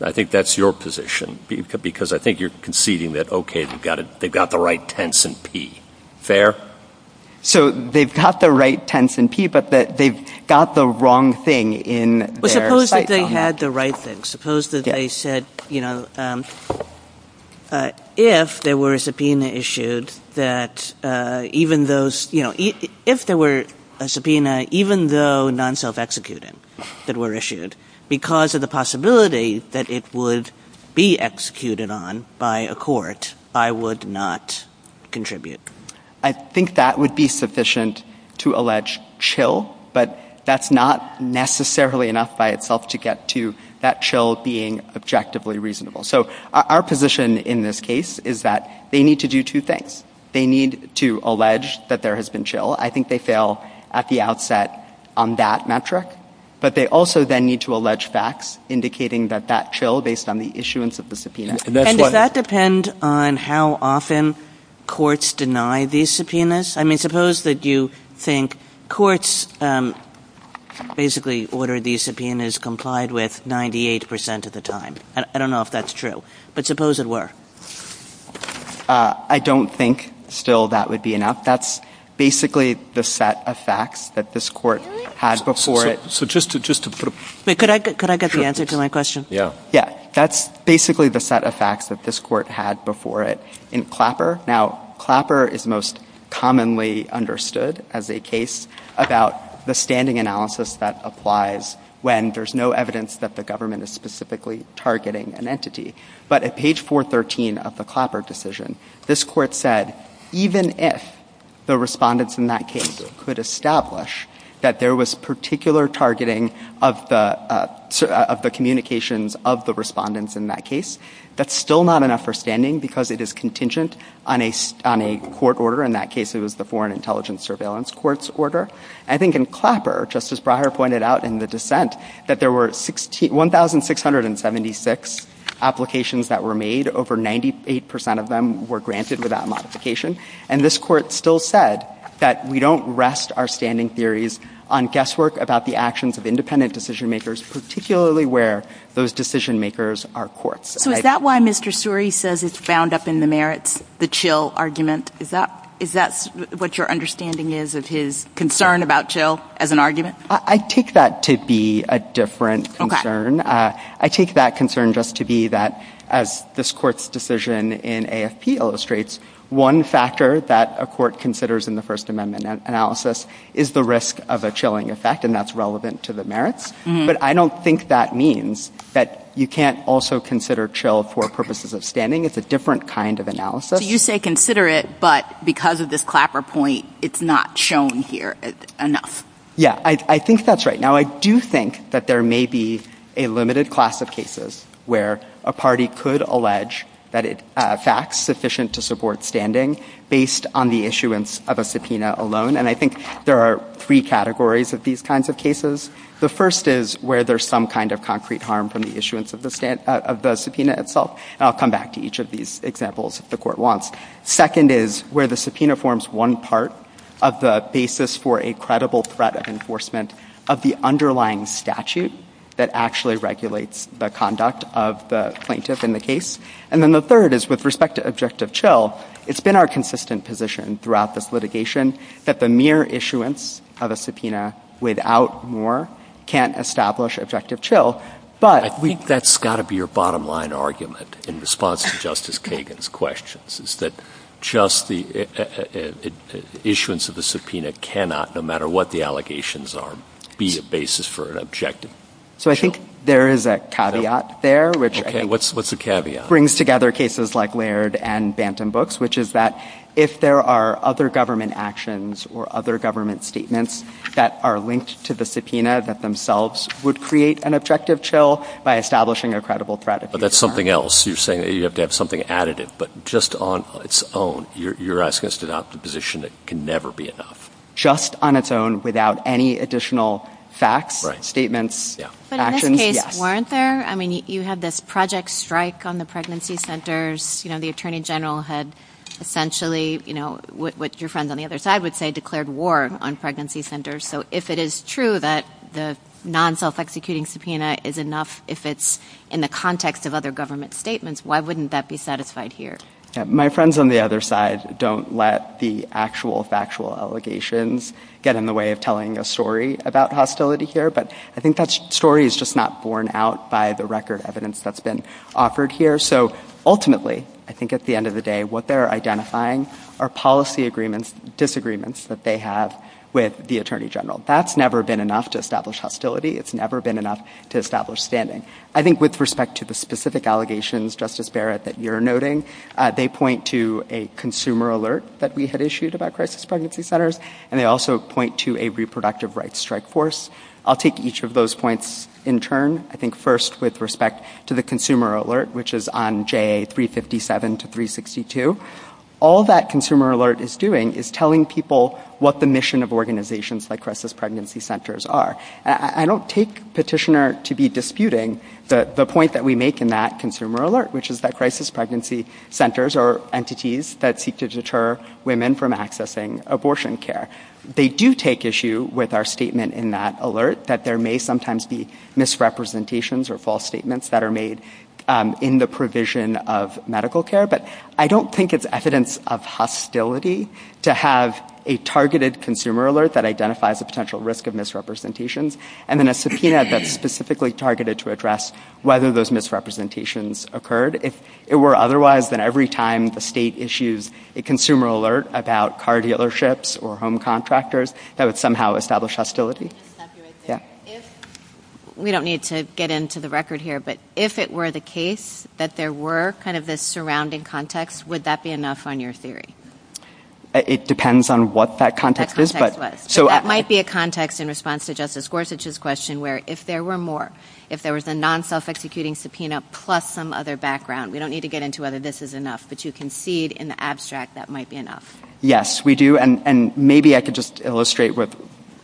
I think that's your position, because I think you're conceding that, okay, they've got the right tense in P. Fair? So they've got the right tense in P, but they've got the wrong thing in their... But suppose that they had the right thing. Suppose that they said, you know, if there were a subpoena issued that even those... You know, if there were a subpoena, even though non-self-executing that were issued, because of the possibility that it would be executed on by a court, I would not contribute. I think that would be sufficient to allege chill, but that's not necessarily enough by itself to get to that chill being objectively reasonable. So our position in this case is that they need to do two things. They need to allege that there has been chill. I think they fail at the outset on that metric, but they also then need to allege facts indicating that that chill, based on the issuance of the subpoena... And does that depend on how often courts deny these subpoenas? I mean, suppose that you think courts basically order these subpoenas complied with 98% of the time. I don't know if that's true, but suppose it were. I don't think still that would be enough. That's basically the set of facts that this court had before it. So just to... Could I get the answer to my question? Yeah, that's basically the set of facts that this court had before it in Clapper. Now, Clapper is most commonly understood as a case about the standing analysis that applies when there's no evidence that the government is specifically targeting an entity. But at page 413 of the Clapper decision, this court said even if the respondents in that case could establish that there was particular targeting of the communications of the respondents in that case, that's still not enough for standing because it is contingent on a court order. In that case, it was the Foreign Intelligence Surveillance Courts order. I think in Clapper, Justice Breyer pointed out in the dissent that there were 1,676 applications that were made. Over 98% of them were granted without modification. And this court still said that we don't rest our standing theories on guesswork about the actions of independent decision-makers, particularly where those decision-makers are courts. So is that why Mr. Suri says it's bound up in the merits, the chill argument? Is that what your understanding is of his concern about chill as an argument? I take that to be a different concern. I take that concern just to be that, as this court's decision in AFP illustrates, one factor that a court considers in the First Amendment analysis is the risk of a chilling effect, and that's relevant to the merits. But I don't think that means that you can't also consider chill for purposes of standing. It's a different kind of analysis. So you say consider it, but because of this Clapper point, it's not shown here enough. Yeah, I think that's right. Now, I do think that there may be a limited class of cases where a party could allege that it facts sufficient to support standing based on the issuance of a subpoena alone, and I think there are three categories of these kinds of cases. The first is where there's some kind of concrete harm from the issuance of the subpoena itself, and I'll come back to each of these examples if the court wants. Second is where the subpoena forms one part of the basis for a credible threat of enforcement of the underlying statute that actually regulates the conduct of the plaintiff in the case. And then the third is, with respect to objective chill, it's been our consistent position throughout this litigation that the mere issuance of a subpoena without more can't establish objective chill, but... That's got to be your bottom-line argument in response to Justice Kagan's questions, is that just the issuance of a subpoena cannot, no matter what the allegations are, be a basis for an objective chill. So I think there is a caveat there, which... OK, what's the caveat? ...brings together cases like Laird and Bantam Books, which is that if there are other government actions or other government statements that are linked to the subpoena that themselves would create an objective chill by establishing a credible threat of... But that's something else. You're saying that you have to have something additive, but just on its own, you're asking us to adopt a position that can never be enough. Just on its own, without any additional facts, statements, actions. But in this case, weren't there? I mean, you had this project strike on the pregnancy centres. The Attorney General had essentially, what your friend on the other side would say, declared war on pregnancy centres. So if it is true that the non-self-executing subpoena is enough if it's in the context of other government statements, why wouldn't that be satisfied here? My friends on the other side don't let the actual factual allegations get in the way of telling a story about hostility here, but I think that story is just not borne out by the record evidence that's been offered here. So ultimately, I think at the end of the day, what they're identifying are policy disagreements that they have with the Attorney General. That's never been enough to establish hostility. It's never been enough to establish standing. I think with respect to the specific allegations, Justice Barrett, that you're noting, they point to a consumer alert that we had issued about crisis pregnancy centres, and they also point to a reproductive rights strike force. I'll take each of those points in turn. I think first with respect to the consumer alert, which is on JA 357 to 362, all that consumer alert is doing is telling people what the mission of organisations like crisis pregnancy centres are. I don't take Petitioner to be disputing the point that we make in that consumer alert, which is that crisis pregnancy centres are entities that seek to deter women from accessing abortion care. They do take issue with our statement in that alert that there may sometimes be misrepresentations or false statements that are made in the provision of medical care, but I don't think it's evidence of hostility to have a targeted consumer alert that identifies a potential risk of misrepresentations, and then a subpoena that's specifically targeted to address whether those misrepresentations occurred. If it were otherwise, then every time the state issues a consumer alert about car dealerships or home contractors, that would somehow establish hostility. We don't need to get into the record here, but if it were the case that there were this surrounding context, would that be enough on your theory? It depends on what that context is. That might be a context in response to Justice Gorsuch's question where if there were more, if there was a non-self-executing subpoena plus some other background, we don't need to get into whether this is enough, but you concede in the abstract that might be enough. Yes, we do, and maybe I could just illustrate with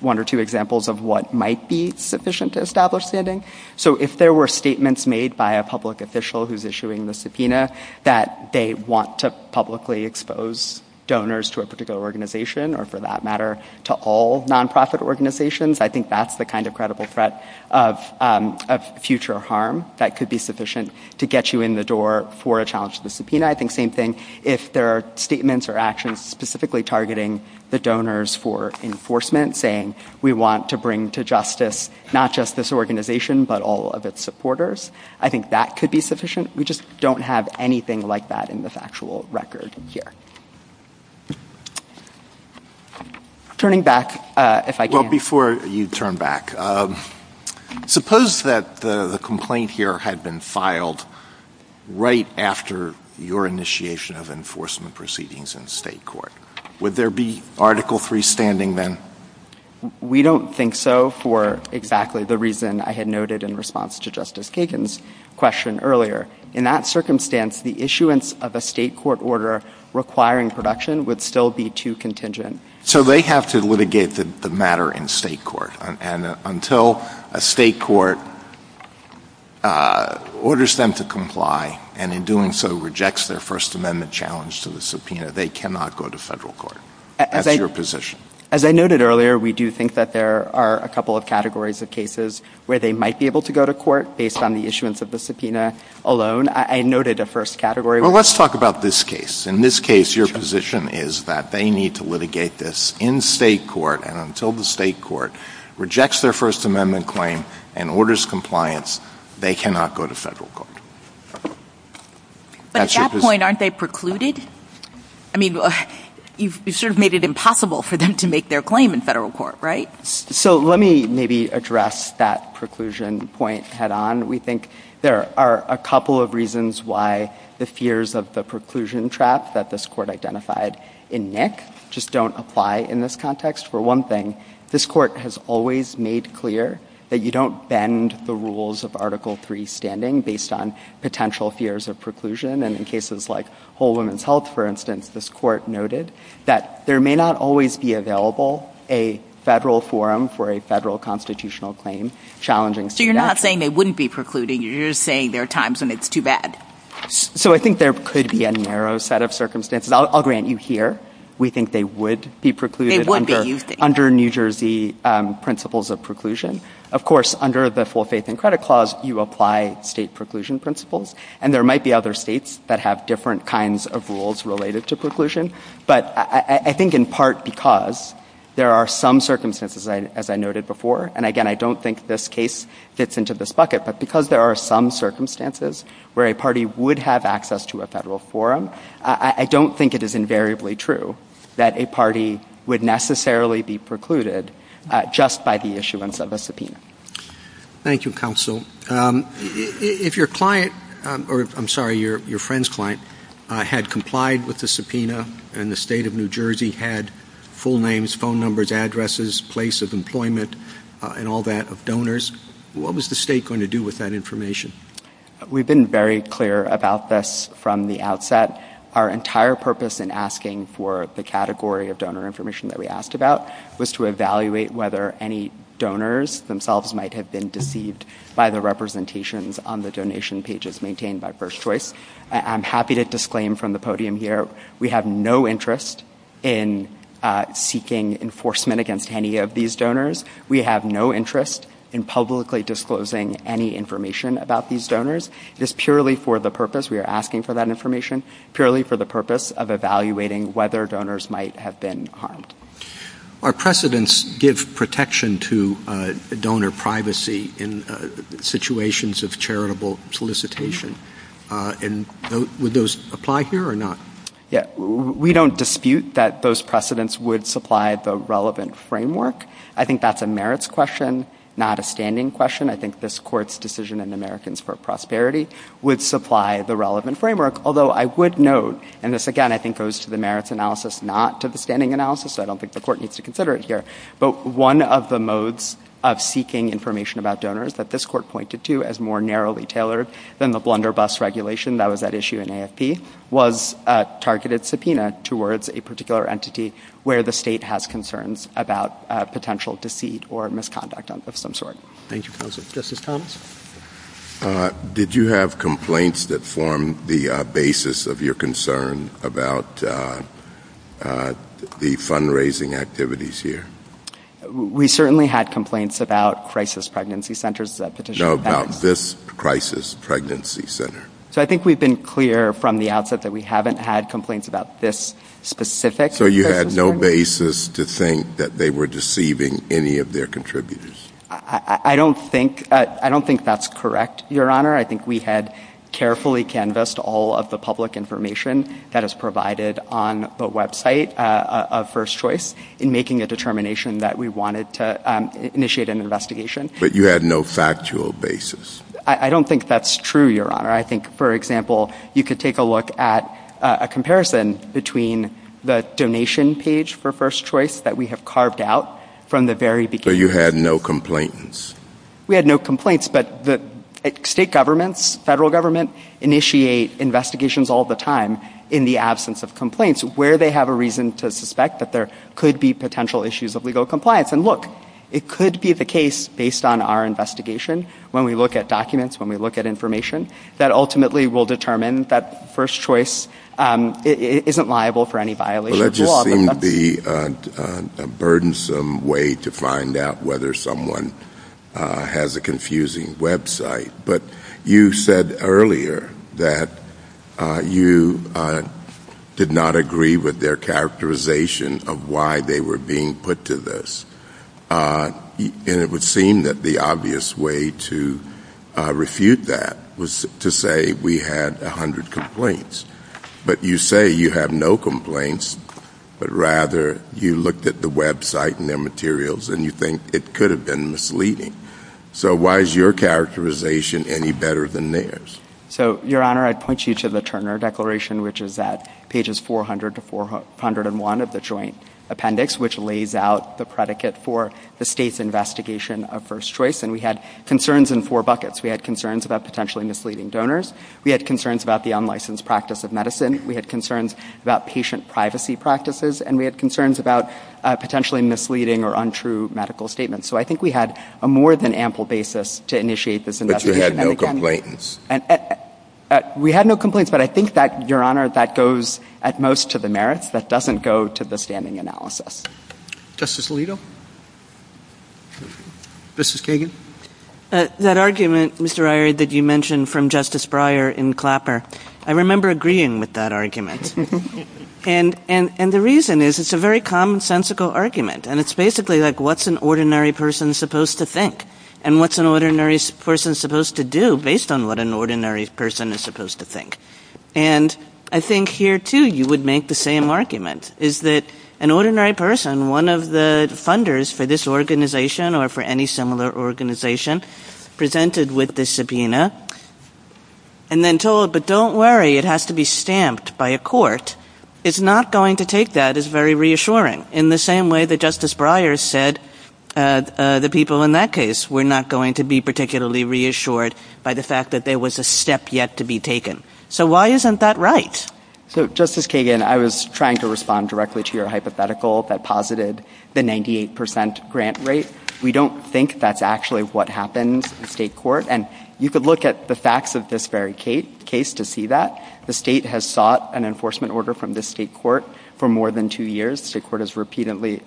one or two examples of what might be sufficient to establish standing. So if there were statements made by a public official who's issuing the subpoena that they want to publicly expose donors to a particular organization, or for that matter, to all non-profit organizations, I think that's the kind of credible threat of future harm that could be sufficient to get you in the door for a challenge to the subpoena. I think same thing if there are statements or actions specifically targeting the donors for enforcement, saying we want to bring to justice not just this organization but all of its supporters. I think that could be sufficient. We just don't have anything like that in this actual record here. Turning back, if I can. Well, before you turn back, suppose that the complaint here had been filed right after your initiation of enforcement proceedings in state court. Would there be article freestanding then? We don't think so for exactly the reason I had noted in response to Justice Kagan's question earlier. In that circumstance, the issuance of a state court order requiring protection would still be too contingent. So they have to litigate the matter in state court, and until a state court orders them to comply and in doing so rejects their First Amendment challenge to the subpoena, they cannot go to federal court. That's your position. As I noted earlier, we do think that there are a couple of categories of cases where they might be able to go to court based on the issuance of the subpoena alone. I noted a first category. Well, let's talk about this case. In this case, your position is that they need to litigate this in state court and until the state court rejects their First Amendment claim and orders compliance, they cannot go to federal court. But at that point, aren't they precluded? I mean, you've sort of made it impossible for them to make their claim in federal court, right? So let me maybe address that preclusion point head-on. We think there are a couple of reasons why the fears of the preclusion trap that this court identified in Nick just don't apply in this context. For one thing, this court has always made clear that you don't bend the rules of Article III standing based on potential fears of preclusion. And in cases like Whole Woman's Health, for instance, this court noted that there may not always be available a federal forum for a federal constitutional claim challenging subpoena. So you're not saying they wouldn't be precluded. You're just saying there are times when it's too bad. So I think there could be a narrow set of circumstances. I'll grant you here we think they would be precluded. They would be. Under New Jersey principles of preclusion. Of course, under the Full Faith and Credit Clause, you apply state preclusion principles, and there might be other states that have different kinds of rules related to preclusion. But I think in part because there are some circumstances, as I noted before, and again, I don't think this case fits into this bucket, but because there are some circumstances where a party would have access to a federal forum, I don't think it is invariably true that a party would necessarily be precluded just by the issuance of a subpoena. Thank you, Counsel. If your client, or I'm sorry, your friend's client, had complied with the subpoena and the state of New Jersey had full names, phone numbers, addresses, place of employment, and all that, of donors, what was the state going to do with that information? We've been very clear about this from the outset. Our entire purpose in asking for the category of donor information that we asked about was to evaluate whether any donors themselves might have been deceived by the representations on the donation pages maintained by First Choice. I'm happy to disclaim from the podium here we have no interest in seeking enforcement against any of these donors. We have no interest in publicly disclosing any information about these donors. It is purely for the purpose, we are asking for that information, purely for the purpose of evaluating whether donors might have been harmed. Our precedents give protection to donor privacy in situations of charitable solicitation. Would those apply here or not? We don't dispute that those precedents would supply the relevant framework. I think that's a merits question, not a standing question. I think this Court's decision in Americans for Prosperity would supply the relevant framework, although I would note, and this, again, I think goes to the merits analysis, not to the standing analysis, so I don't think the Court needs to consider it here, but one of the modes of seeking information about donors that this Court pointed to as more narrowly tailored than the blunderbuss regulation that was at issue in AFP was a targeted subpoena towards a particular entity where the state has concerns about potential deceit or misconduct of some sort. Thank you, Counsel. Justice Thomas? Did you have complaints that formed the basis of your concern about the fundraising activities here? We certainly had complaints about crisis pregnancy centers. No, about this crisis pregnancy center. So I think we've been clear from the outset that we haven't had complaints about this specific. So you had no basis to think that they were deceiving any of their contributors? I don't think that's correct, Your Honor. I think we had carefully canvassed all of the public information that is provided on the website of First Choice in making a determination that we wanted to initiate an investigation. But you had no factual basis? I don't think that's true, Your Honor. I think, for example, you could take a look at a comparison between the donation page for First Choice that we have carved out from the very beginning. So you had no complaints? We had no complaints, but state governments, federal government, initiate investigations all the time in the absence of complaints where they have a reason to suspect that there could be potential issues of legal compliance. And look, it could be the case, based on our investigation, when we look at documents, when we look at information, that ultimately will determine that First Choice isn't liable for any violation of the law. Well, that just seemed to be a burdensome way to find out whether someone has a confusing website. But you said earlier that you did not agree with their characterization of why they were being put to this. And it would seem that the obvious way to refute that was to say we had 100 complaints. But you say you have no complaints, but rather you looked at the website and their materials and you think it could have been misleading. So why is your characterization any better than theirs? So, Your Honor, I'd point you to the Turner Declaration, which is at pages 400 to 401 of the Joint Appendix, which lays out the predicate for the state's investigation of First Choice. And we had concerns in four buckets. We had concerns about potentially misleading donors. We had concerns about the unlicensed practice of medicine. We had concerns about patient privacy practices. And we had concerns about potentially misleading or untrue medical statements. So I think we had a more than ample basis to initiate this investigation. But you had no complaints? We had no complaints, but I think that, Your Honor, that goes at most to the merits. That doesn't go to the standing analysis. Justice Alito? Justice Kagan? That argument, Mr. Irie, that you mentioned from Justice Breyer in Clapper, I remember agreeing with that argument. And the reason is it's a very commonsensical argument, and it's basically like, what's an ordinary person supposed to think? And what's an ordinary person supposed to do based on what an ordinary person is supposed to think? And I think here, too, you would make the same argument, is that an ordinary person, one of the funders for this organization or for any similar organization, presented with the subpoena and then told, but don't worry, it has to be stamped by a court, is not going to take that as very reassuring, in the same way that Justice Breyer said the people in that case were not going to be particularly reassured by the fact that there was a step yet to be taken. So why isn't that right? So, Justice Kagan, I was trying to respond directly to your hypothetical that posited the 98% grant rate. We don't think that's actually what happened in state court. And you could look at the facts of this very case to see that. The state has sought an enforcement order from the state court for more than two years. The state court has repeatedly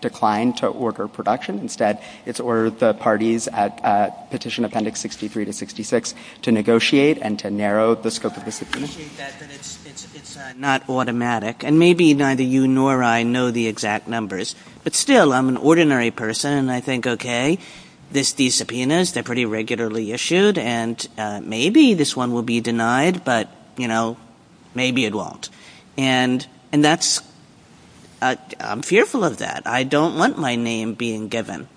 declined to order production. Instead, it's ordered the parties at Petition Appendix 63 to 66 to negotiate and to narrow the scope of the subpoena. I appreciate that, but it's not automatic. And maybe neither you nor I know the exact numbers. But still, I'm an ordinary person, and I think, okay, these subpoenas, they're pretty regularly issued, and maybe this one will be denied, but, you know, maybe it won't. And that's... I'm fearful of that. I don't want my name being given.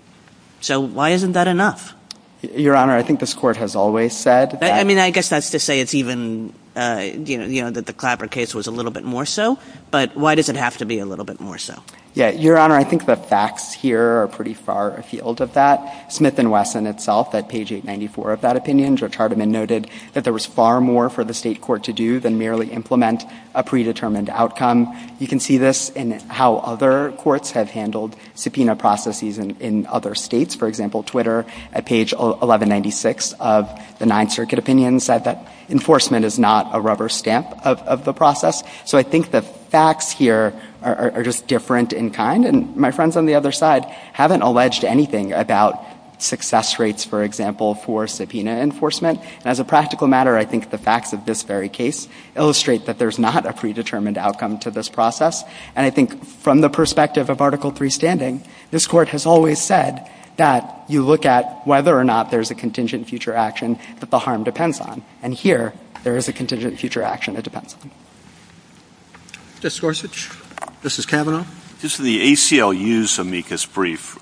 So why isn't that enough? Your Honor, I think this court has always said... I mean, I guess that's to say it's even... You know, that the Clapper case was a little bit more so. But why does it have to be a little bit more so? Yeah, Your Honor, I think the facts here are pretty far afield of that. Smith and Wesson itself, at page 894 of that opinion, Joe Charbaman noted that there was far more for the state court to do than merely implement a predetermined outcome. You can see this in how other courts have handled subpoena processes in other states. For example, Twitter, at page 1196 of the Ninth Circuit opinion, said that enforcement is not a rubber stamp of the process. So I think the facts here are just different in kind. And my friends on the other side haven't alleged anything about success rates, for example, for subpoena enforcement. As a practical matter, I think the facts of this very case illustrate that there's not a predetermined outcome to this process. And I think from the perspective of Article III standing, this court has always said that you look at whether or not there's a contingent future action that the harm depends on. And here, there is a contingent future action that depends on it. Mr. Gorsuch, this is Kavanaugh. The ACLU's amicus brief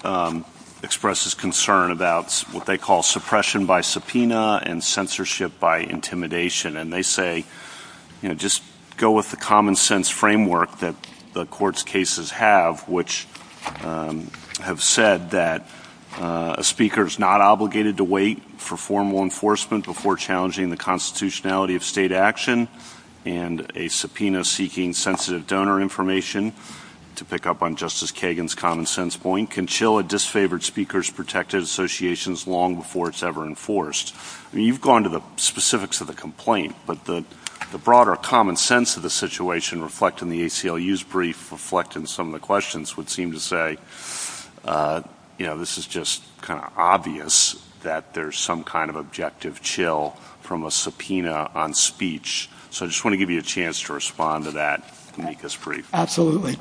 expresses concern about what they call suppression by subpoena and censorship by intimidation. And they say, you know, just go with the common-sense framework that the court's cases have, which have said that a speaker is not obligated to wait for formal enforcement before challenging the constitutionality of state action and a subpoena seeking sensitive donor information, to pick up on Justice Kagan's common-sense point, can chill a disfavored speaker's protective associations long before it's ever enforced. I mean, you've gone to the specifics of the complaint, but the broader common sense of the situation reflecting the ACLU's brief, reflecting some of the questions, would seem to say, you know, this is just kind of obvious that there's some kind of objective chill from a subpoena on speech. So I just want to give you a chance to respond to that amicus brief. Absolutely.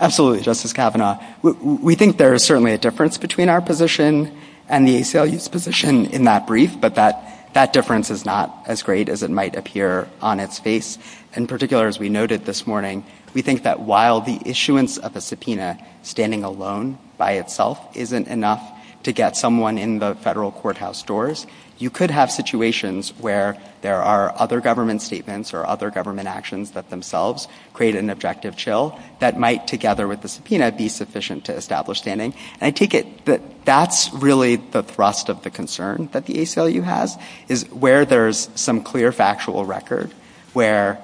Absolutely, Justice Kavanaugh. We think there is certainly a difference between our position and the ACLU's position in that brief, but that difference is not as great as it might appear on its face. In particular, as we noted this morning, we think that while the issuance of a subpoena standing alone by itself isn't enough to get someone in the federal courthouse doors, you could have situations where there are other government statements or other government actions that themselves create an objective chill that might, together with the subpoena, be sufficient to establish standing. And I take it that that's really the thrust of the concern that the ACLU has, is where there's some clear factual record where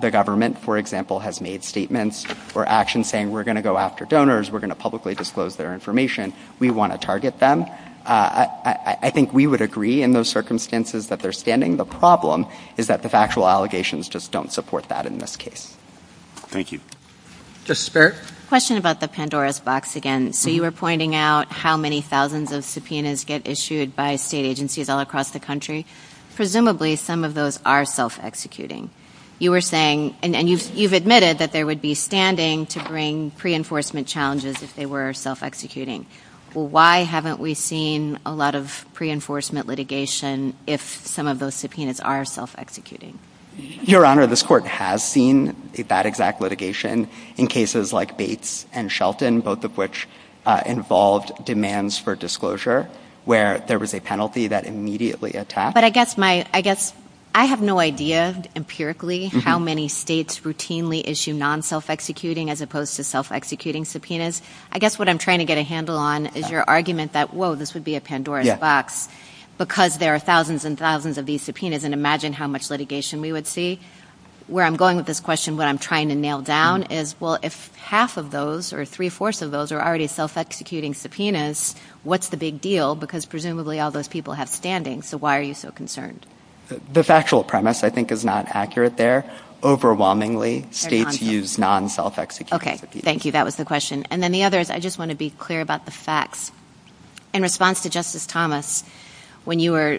the government, for example, has made statements or actions saying we're going to go after donors, we're going to publicly disclose their information, we want to target them. I think we would agree in those circumstances that they're standing. The problem is that the factual allegations just don't support that in this case. Thank you. Justice Barrett? Question about the Pandora's box again. So you were pointing out how many thousands of subpoenas get issued by state agencies all across the country. Presumably some of those are self-executing. You were saying, and you've admitted that there would be standing to bring pre-enforcement challenges if they were self-executing. Well, why haven't we seen a lot of pre-enforcement litigation if some of those subpoenas are self-executing? Your Honor, this Court has seen that exact litigation in cases like Bates and Shelton, both of which involved demands for disclosure, where there was a penalty that immediately attacked. But I guess my... I guess... I have no idea, empirically, how many states routinely issue non-self-executing as opposed to self-executing subpoenas. I guess what I'm trying to get a handle on is your argument that, whoa, this would be a Pandora's box because there are thousands and thousands of these subpoenas, and imagine how much litigation we would see. Where I'm going with this question, what I'm trying to nail down is, well, if half of those or three-fourths of those are already self-executing subpoenas, what's the big deal? Because presumably all those people have standing. So why are you so concerned? This actual premise, I think, is not accurate there. Overwhelmingly, states use non-self-executing subpoenas. Okay, thank you. That was the question. And then the other is I just want to be clear about the facts. In response to Justice Thomas, when you were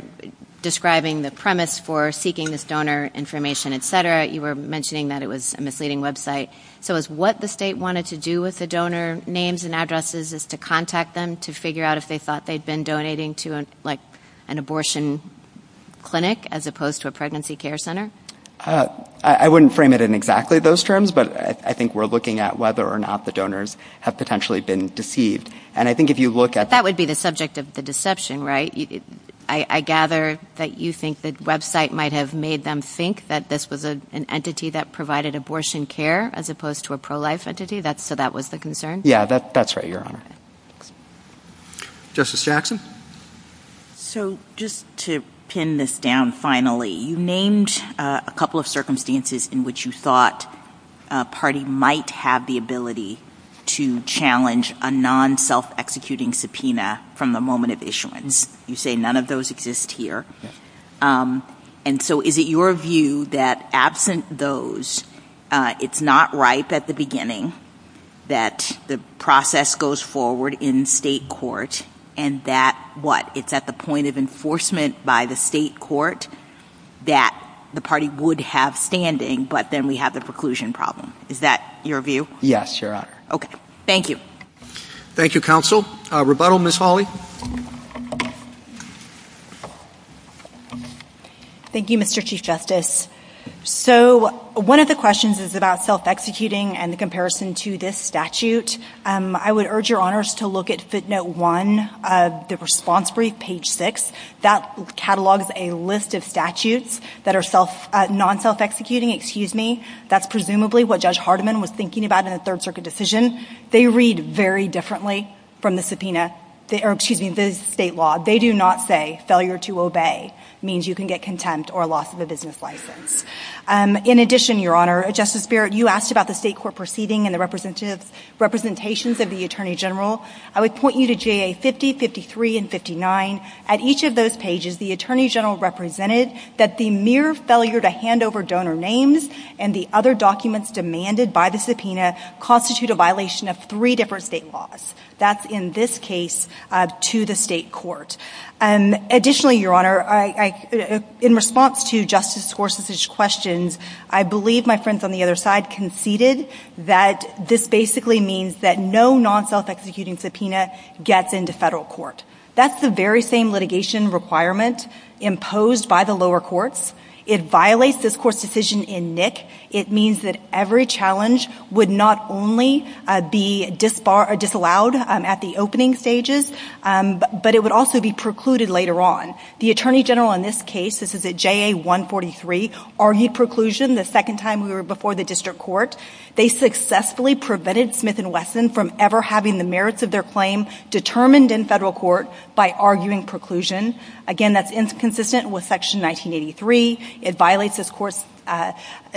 describing the premise for seeking this donor information, et cetera, you were mentioning that it was a misleading website. So is what the state wanted to do with the donor names and addresses is to contact them to figure out if they thought they'd been donating to an abortion clinic as opposed to a pregnancy care center? I wouldn't frame it in exactly those terms, but I think we're looking at whether or not the donors have potentially been deceived. And I think if you look at... That would be the subject of the deception, right? I gather that you think the website might have made them think that this was an entity that provided abortion care as opposed to a pro-life entity, so that was the concern? Yeah, that's right, Your Honor. Justice Jackson? So just to pin this down finally, you named a couple of circumstances in which you thought a party might have the ability to challenge a non-self-executing subpoena from the moment of issuance. You say none of those exist here. And so is it your view that absent those, it's not ripe at the beginning, that the process goes forward in state court, and that, what, it's at the point of enforcement by the state court that the party would have standing, but then we have the preclusion problem? Is that your view? Yes, Your Honor. Okay, thank you. Thank you, counsel. Rebuttal, Ms. Hawley? Thank you, Mr. Chief Justice. So one of the questions is about self-executing and the comparison to this statute. I would urge Your Honors to look at footnote 1, the response brief, page 6. That catalogs a list of statutes that are non-self-executing. Excuse me, that's presumably what Judge Hardiman was thinking about in a Third Circuit decision. They read very differently from the state law. They do not say failure to obey means you can get contempt or loss of a business license. In addition, Your Honor, Justice Barrett, you asked about the state court proceeding and the representations of the Attorney General. I would point you to JA 50, 53, and 59. At each of those pages, the Attorney General represented that the mere failure to hand over donor names and the other documents demanded by the subpoena constitute a violation of three different state laws. That's in this case to the state court. Additionally, Your Honor, in response to Justice Scorsese's questions, I believe my friends on the other side conceded that this basically means that no non-self-executing subpoena gets into federal court. That's the very same litigation requirement imposed by the lower courts. It violates this court's decision in NIC. It means that every challenge would not only be disallowed at the opening stages, but it would also be precluded later on. The Attorney General in this case, this is at JA 143, argued preclusion the second time we were before the district court. They successfully prevented Smith & Wesson from ever having the merits of their claim determined in federal court by arguing preclusion. Again, that's inconsistent with Section 1983. It violates this court's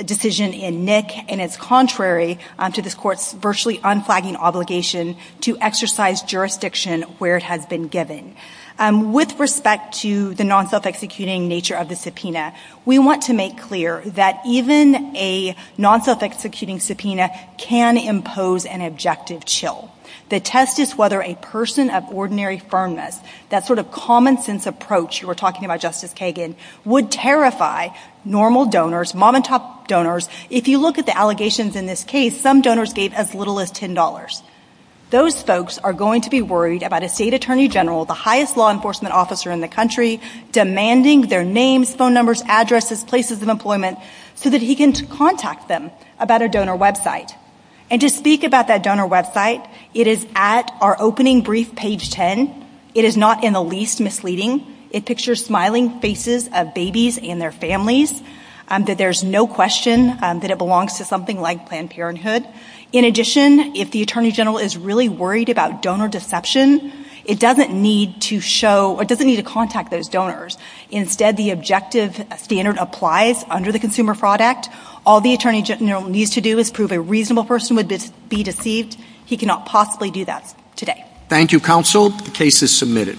decision in NIC, and it's contrary to this court's virtually unflagging obligation to exercise jurisdiction where it has been given. With respect to the non-self-executing nature of the subpoena, we want to make clear that even a non-self-executing subpoena can impose an objective chill. The test is whether a person of ordinary firmness, that sort of common-sense approach you were talking about, Justice Kagan, would terrify normal donors, mom-and-pop donors. If you look at the allegations in this case, some donors gave as little as $10. Those folks are going to be worried about a state attorney general, the highest law enforcement officer in the country, demanding their names, phone numbers, addresses, places of employment so that he can contact them about a donor website. And to speak about that donor website, it is at our opening brief, page 10. It is not in the least misleading. It pictures smiling faces of babies and their families. There's no question that it belongs to something like Planned Parenthood. In addition, if the attorney general is really worried about donor deception, it doesn't need to contact those donors. Instead, the objective standard applies under the Consumer Fraud Act. All the attorney general needs to do is prove a reasonable person would be deceived. He cannot possibly do that today. Thank you, counsel. The case is submitted.